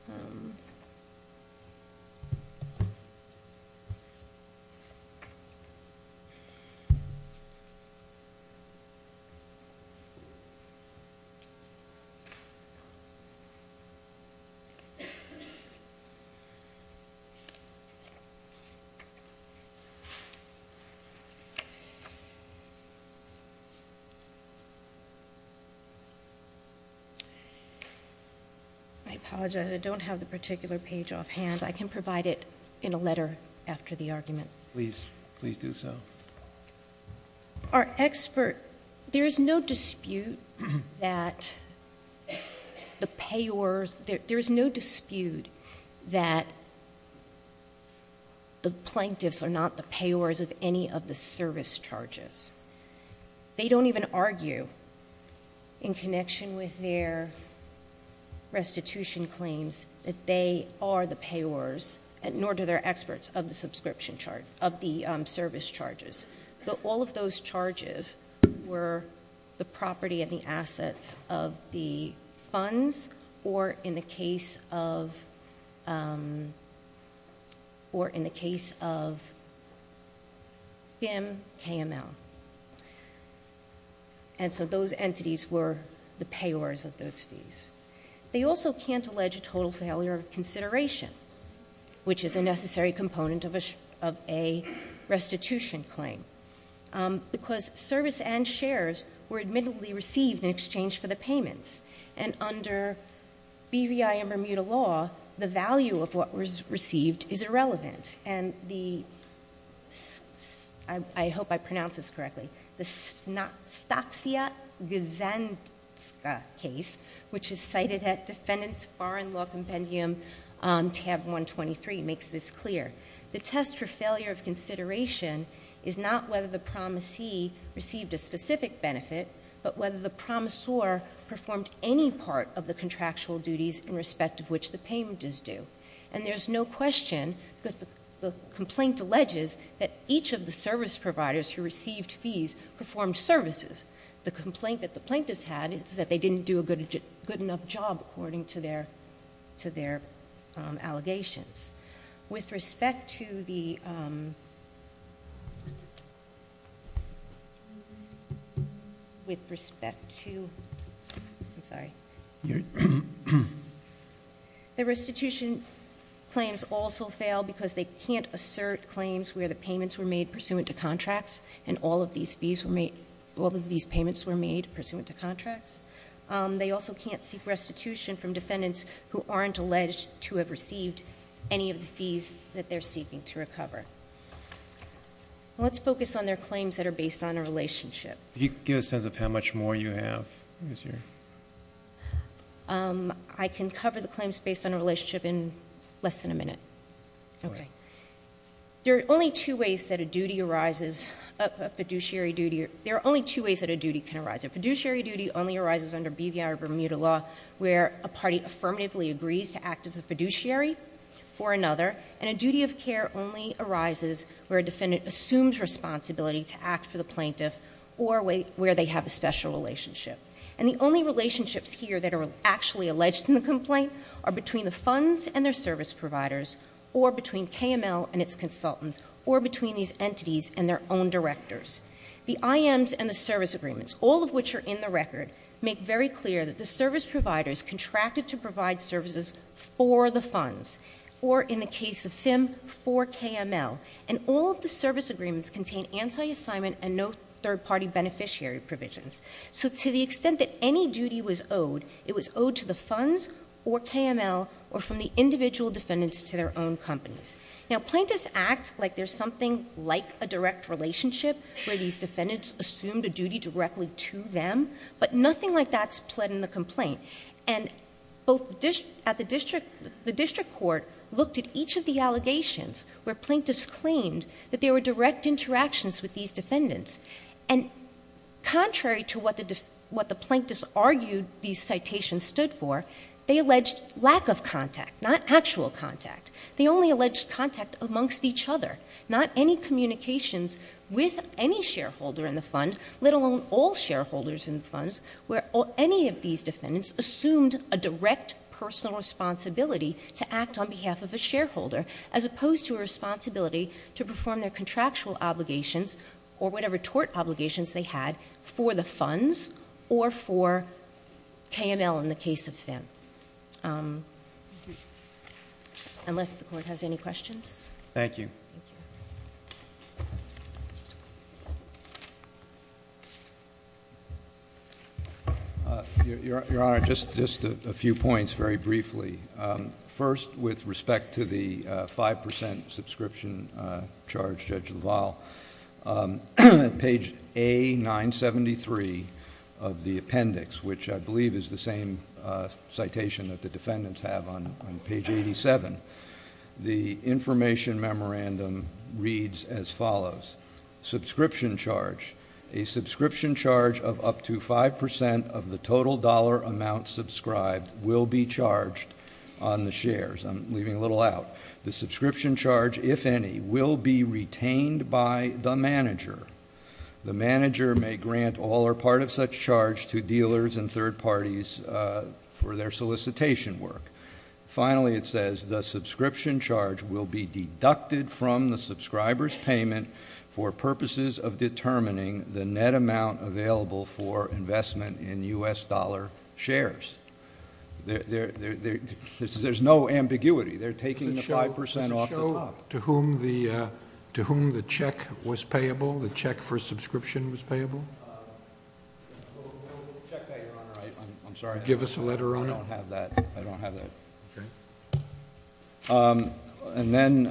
I apologize, I don't have the particular page off hand. I can provide it in a letter after the argument. Please, please do so. Our expert... There's no dispute that the payors... There is no dispute that the plaintiffs are not the payors of any of the service charges. They don't even argue in connection with their restitution claims that they are the payors, nor do they're experts of the subscription charge, of the service charges. So all of those charges were the property and the assets of the funds or in the case of... Or in the case of FIM, KML. And so those entities were the payors of those fees. They also can't allege a total failure of consideration, which is a necessary component of a restitution claim. Because service and shares were admittably received in exchange for the payments. And under BVI and Bermuda law, the value of what was received is irrelevant. And the... I hope I pronounce this correctly. The Stoksiak-Guzanska case, which is cited at Defendant's Foreign Law Compendium, tab 123, makes this clear. The test for failure of consideration is not whether the promisee received a specific benefit, but whether the promisor performed any part of the contractual duties in respect of which the payment is due. And there's no question that the complaint alleges that each of the service providers who received fees performed services. The complaint that the plaintiffs had is that they didn't do a good enough job according to their allegations. With respect to the... With respect to... I'm sorry. The restitution claims also fail because they can't assert claims where the payments were made pursuant to contracts and all of these fees were made... All of these payments were made pursuant to contracts. They also can't seek restitution from defendants who aren't alleged to have received any of the fees that they're seeking to recover. Let's focus on their claims that are based on a relationship. Can you give a sense of how much more you have? I can cover the claims based on a relationship in less than a minute. Okay. There are only two ways that a duty arises... A fiduciary duty... There are only two ways that a duty can arise. A fiduciary duty only arises under BVI or Bermuda law where a party affirmatively agrees to act as a fiduciary for another and a duty of care only arises where a defendant assumes responsibility to act for the plaintiff or where they have a special relationship. And the only relationships here that are actually alleged in the complaint are between the funds and their service providers or between KML and its consultants or between these entities and their own directors. The IMs and the service agreements, all of which are in the record, make very clear that the service providers contracted to provide services for the funds or in the case of SIM, for KML. All of the service agreements contain anti-assignment and no third-party beneficiary provisions. So to the extent that any duty was owed, it was owed to the funds or KML or from the individual defendants to their own companies. Now, plaintiffs act like there's something like a direct relationship where these defendants assumed a duty directly to them, but nothing like that's pled in the complaint. And the district court looked at each of the allegations where plaintiffs claimed that there were direct interactions with these defendants. And contrary to what the plaintiffs argued these citations stood for, they alleged lack of contact, not actual contact. They only alleged contact amongst each other, not any communications with any shareholder in the fund, let alone all shareholders in the funds, where any of these defendants assumed a direct personal responsibility to act on behalf of a shareholder as opposed to a responsibility to perform their contractual obligations or whatever tort obligations they had for the funds or for KML in the case of FIM. Unless the court has any questions. Thank you. Your Honor, just a few points very briefly. First, with respect to the 5% subscription charge, Judge Duval, on page A973 of the appendix, which I believe is the same citation that the defendants have on page 87, the information memorandum reads as follows. Subscription charge. A subscription charge of up to 5% of the total dollar amount subscribed will be charged on the shares. I'm leaving a little out. The subscription charge, if any, will be retained by the manager. The manager may grant all or part of such charge to dealers and third parties for their solicitation work. Finally, it says the subscription charge will be deducted from the subscriber's payment for purposes of determining the net amount available for investment in U.S. dollar shares. There's no ambiguity. They're taking the 5% off the top. Did it show to whom the check was payable, the check for subscription was payable? I'm sorry. Give us a letter, Your Honor. I don't have that. I don't have that. And then,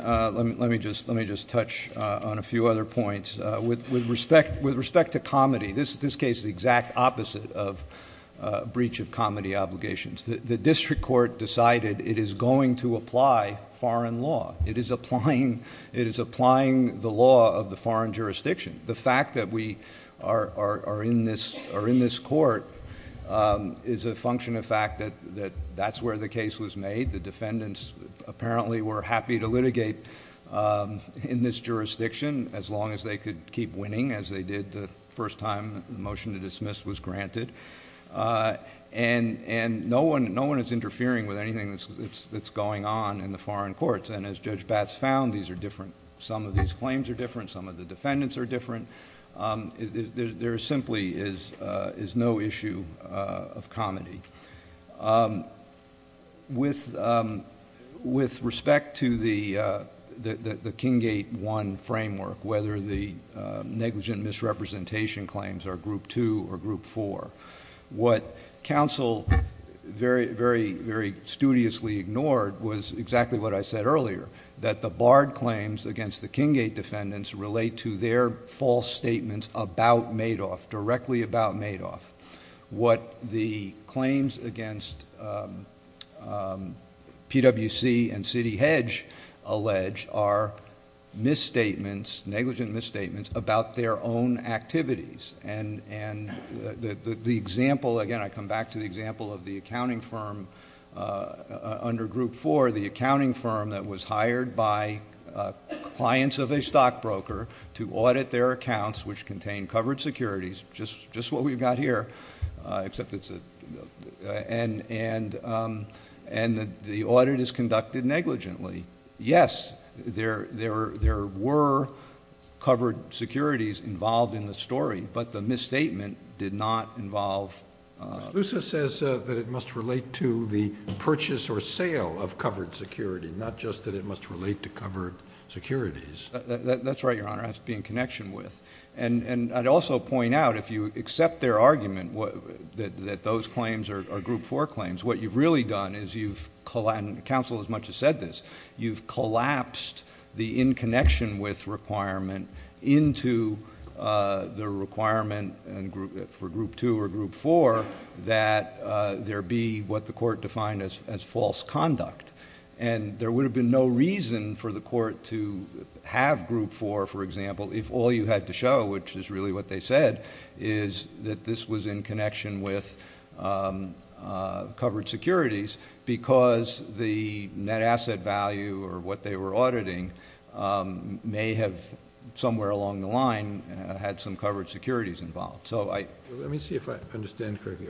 let me just touch on a few other points. With respect to comedy, this case is the exact opposite of breach of comedy obligations. The district court decided it is going to apply foreign law. It is applying the law of the foreign jurisdiction. The fact that we are in this court is a function of fact that that's where the case was made. The defendants apparently were happy to litigate in this jurisdiction as long as they could keep winning as they did the first time the motion to dismiss was granted. And no one is interfering with anything that's going on in the foreign courts. And as Judge Batts found, these are different. Some of these claims are different. Some of the defendants are different. There simply is no issue of comedy. With respect to the Kinggate 1 framework, whether the negligent misrepresentation claims are Group 2 or Group 4, what counsel very studiously ignored was exactly what I said earlier, that the barred claims against the Kinggate defendants relate to their false statements about Madoff, directly about Madoff. What the claims against PWC and City Hedge allege are negligent misstatements about their own activities. And the example, again, I come back to the example of the accounting firm under Group 4, the accounting firm that was hired by clients of a stockbroker to audit their accounts, which contain covered securities, just what we've got here, except it's a... And the audit is conducted negligently. Yes, there were covered securities involved in the story, but the misstatement did not involve... Lusa says that it must relate to the purchase or sale of covered security, not just that it must relate to covered securities. That's right, Your Honor, that's being connection with. And I'd also point out, if you accept their argument that those claims are Group 4 claims, what you've really done is you've collapsed, counsel as much as said this, you've collapsed the in connection with requirement into the requirement for Group 2 or Group 4, that there be what the court defined as false conduct. And there would have been no reason for the court to have Group 4, for example, if all you had to show, which is really what they said, is that this was in connection with covered securities, because the net asset value or what they were auditing may have somewhere along the line had some covered securities involved. So I... Let me see if I understand correctly.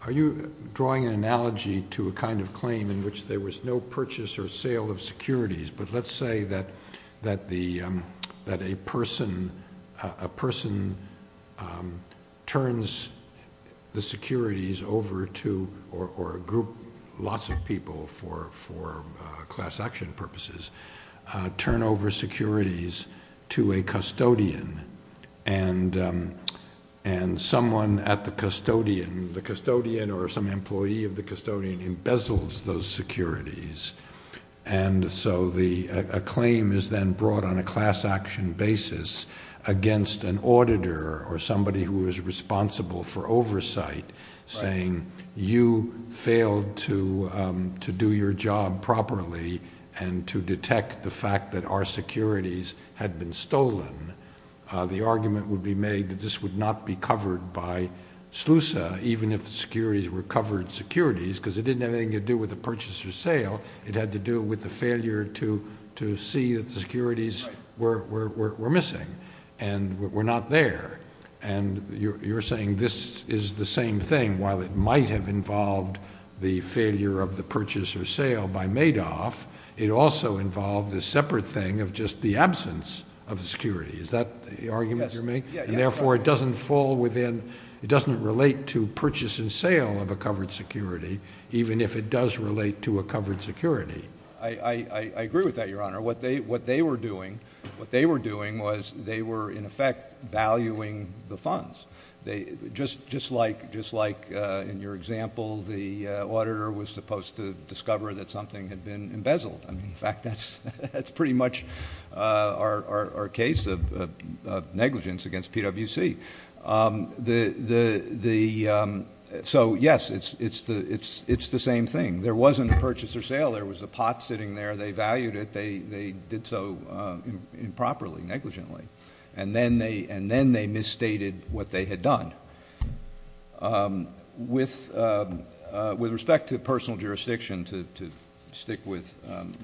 Are you drawing an analogy to a kind of claim in which there was no purchase or sale of securities? But let's say that a person turns the securities over to, or a group, lots of people for class action purposes, turn over securities to a custodian and someone at the custodian, the custodian or some employee of the custodian, embezzles those securities. And so a claim is then brought on a class action basis against an auditor or somebody who is responsible for oversight saying, you failed to do your job properly and to detect the fact that our securities had been stolen. The argument would be made that this would not be covered by SLUSA, even if the securities were covered securities, because it didn't have anything to do with the purchase or sale. It had to do with the failure to see that the securities were missing and were not there. And you're saying this is the same thing, while it might have involved the failure of the purchase or sale by Madoff, it also involved a separate thing of just the absence of the security. Is that the argument you're making? And therefore it doesn't fall within, it doesn't relate to purchase and sale of a covered security, even if it does relate to a covered security. I agree with that, Your Honor. What they were doing, what they were doing was they were in effect valuing the funds. They just like in your example, the auditor was supposed to discover that something had been embezzled. I mean, in fact, that's pretty much our case of negligence against PwC. So yes, it's the same thing. There wasn't a purchase or sale. There was a pot sitting there. They valued it. They did so improperly, negligently. And then they misstated what they had done. With respect to personal jurisdiction, to stick with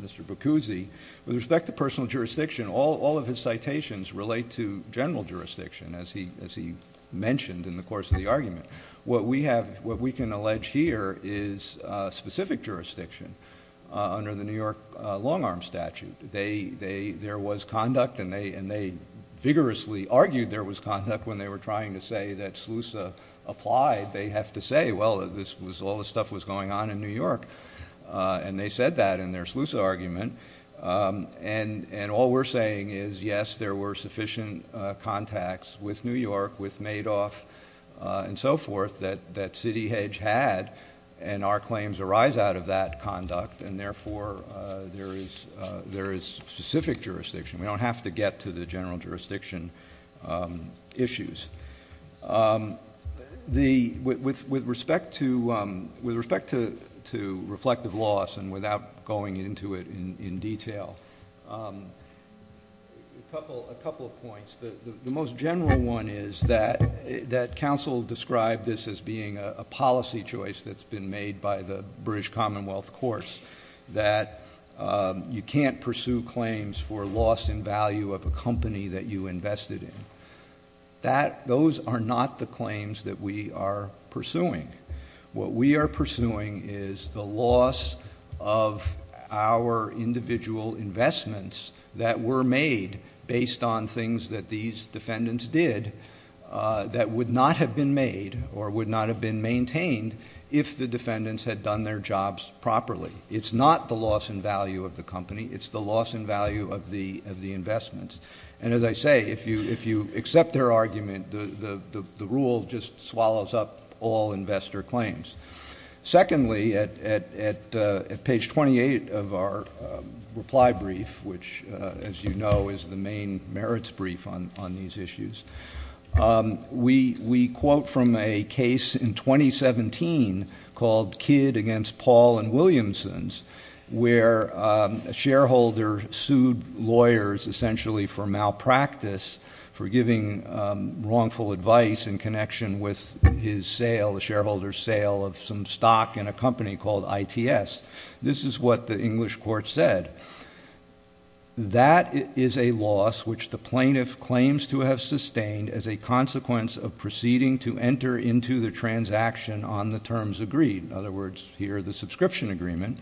Mr. Bacuzzi, with respect to personal jurisdiction, all of his citations relate to general jurisdiction, as he mentioned in the course of the argument. What we have, what we can allege here is specific jurisdiction under the New York long arm statute. There was conduct and they vigorously argued there was conduct when they were trying to say that SLUSA applied. They have to say, well, this was all the stuff was going on in New York. And they said that in their SLUSA argument. And all we're saying is, yes, there were sufficient contacts with New York, with Madoff and so forth that City Hedge had. And our claims arise out of that conduct. And therefore, there is specific jurisdiction. We don't have to get to the general jurisdiction issues. The, with respect to, with respect to reflective loss and without going into it in detail. A couple of points. The most general one is that that counsel described this as being a policy choice that's been made by the British Commonwealth course, that you can't pursue claims for loss in value of a company that you invested in. That those are not the claims that we are pursuing. What we are pursuing is the loss of our individual investments that were made based on things that these defendants did that would not have been made or would not have been maintained if the defendants had done their jobs properly. It's not the loss in value of the company. It's the loss in value of the, of the investments. And as I say, if you, if you accept their argument, the rule just swallows up all investor claims. Secondly, at page 28 of our reply brief, which as you know, is the main merits brief on these issues. We quote from a case in 2017 called Kidd against Paul and Williamson's, where a shareholder sued lawyers essentially for malpractice for giving wrongful advice in connection with his sale, the shareholder's sale of some stock in a company called ITS. This is what the English court said. That is a loss which the plaintiff claims to have sustained as a consequence of proceeding to enter into the transaction on the terms agreed. In other words, here the subscription agreement,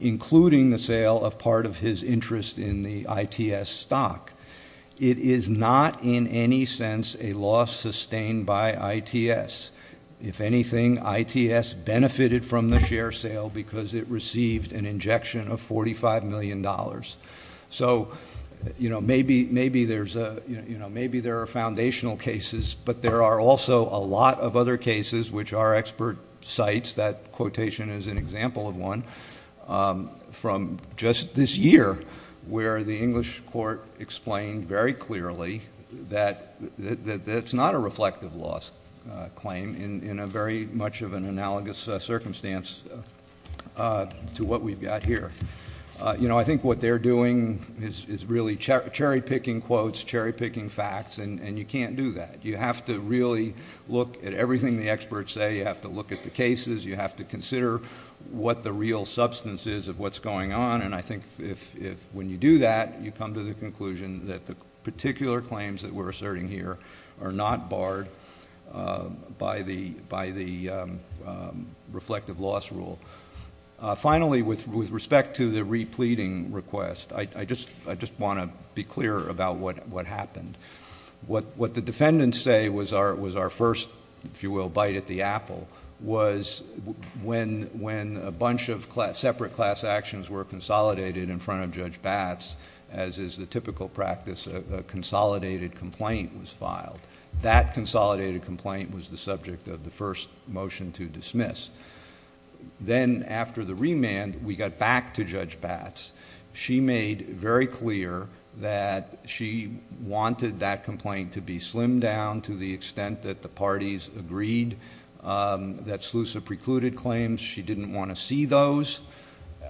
including the sale of part of his interest in the ITS stock. It is not in any sense, a loss sustained by ITS. If anything, ITS benefited from the share sale because it received an injection of $45 million. So, you know, maybe, maybe there's a, you know, maybe there are foundational cases, but there are also a lot of other cases, which are expert sites. That quotation is an example of one from just this year where the English court explained very clearly that it's not a reflective loss claim in a very much of an analogous circumstance to what we've got here. You know, I think what they're doing is really cherry-picking quotes, cherry-picking facts, and you can't do that. You have to really look at everything the experts say. You have to look at the cases. You have to consider what the real substance is of what's going on. And I think if when you do that, you come to the conclusion that the particular claims that we're asserting here are not barred by the reflective loss rule. Finally, with respect to the repleting request, I just want to be clear about what happened. What the defendants say was our first, if you will, bite at the apple was when a bunch of separate class actions were consolidated in front of Judge Batts, as is the typical practice of a consolidated complaint was filed. That consolidated complaint was the subject of the first motion to dismiss. Then after the remand, we got back to Judge Batts. She made very clear that she wanted that complaint to be slimmed down to the extent that the parties agreed that selusive precluded claims. She didn't want to see those.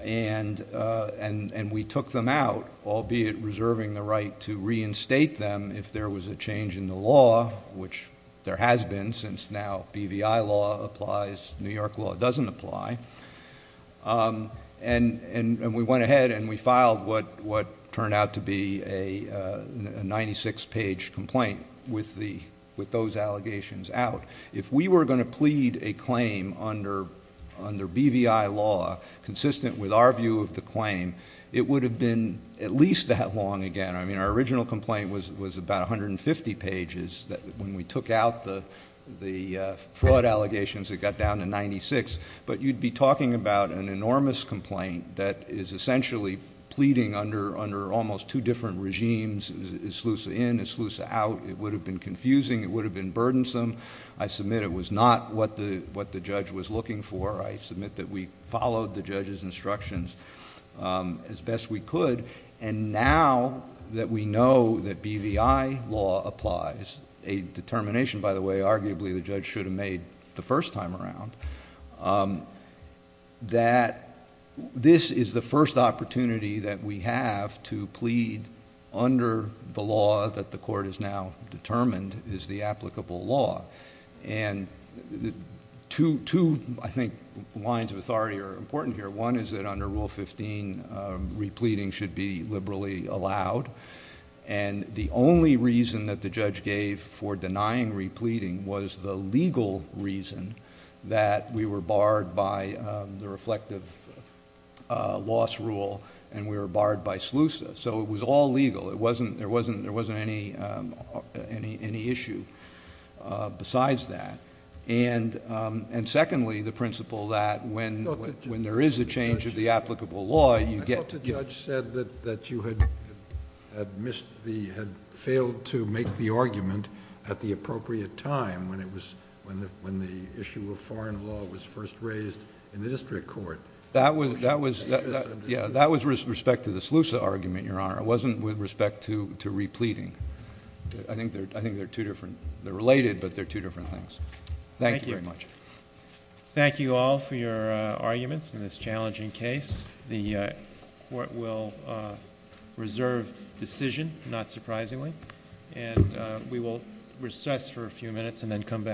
And we took them out, albeit reserving the right to reinstate them if there was a change in the law, which there has been since now BVI law applies, New York law doesn't apply. And we went ahead and we filed what turned out to be a 96-page complaint with those allegations out. If we were going to plead a claim under BVI law, consistent with our view of the claim, it would have been at least that long again. I mean, our original complaint was about 150 pages when we took out the fraud allegations that got down to 96. But you'd be talking about an enormous complaint that is essentially pleading under almost two different regimes. Is SLUSA in? Is SLUSA out? It would have been confusing. It would have been burdensome. I submit it was not what the judge was looking for. I submit that we followed the judge's instructions as best we could. And now that we know that BVI law applies, a determination, by the way, arguably the judge should have made the first time around, that this is the first opportunity that we have to plead under the law that the court has now determined is the applicable law. And two, I think, lines of authority are important here. One is that under Rule 15, repleading should be liberally allowed. And the only reason that the judge gave for denying repleading was the legal reason that we were barred by the reflective loss rule and we were barred by SLUSA. So it was all legal. There wasn't any issue besides that. And secondly, the principle that when there is a change of the applicable law, you get to get- I thought the judge said that you had failed to make the argument at the appropriate time when the issue of foreign law was first raised in the district court. That was respect to the SLUSA argument, Your Honor. It wasn't with respect to repleading. I think there are two different- they're related, but they're two different things. Thank you very much. Thank you all for your arguments in this challenging case. The court will reserve decision, not surprisingly. And we will recess for a few minutes and then come back.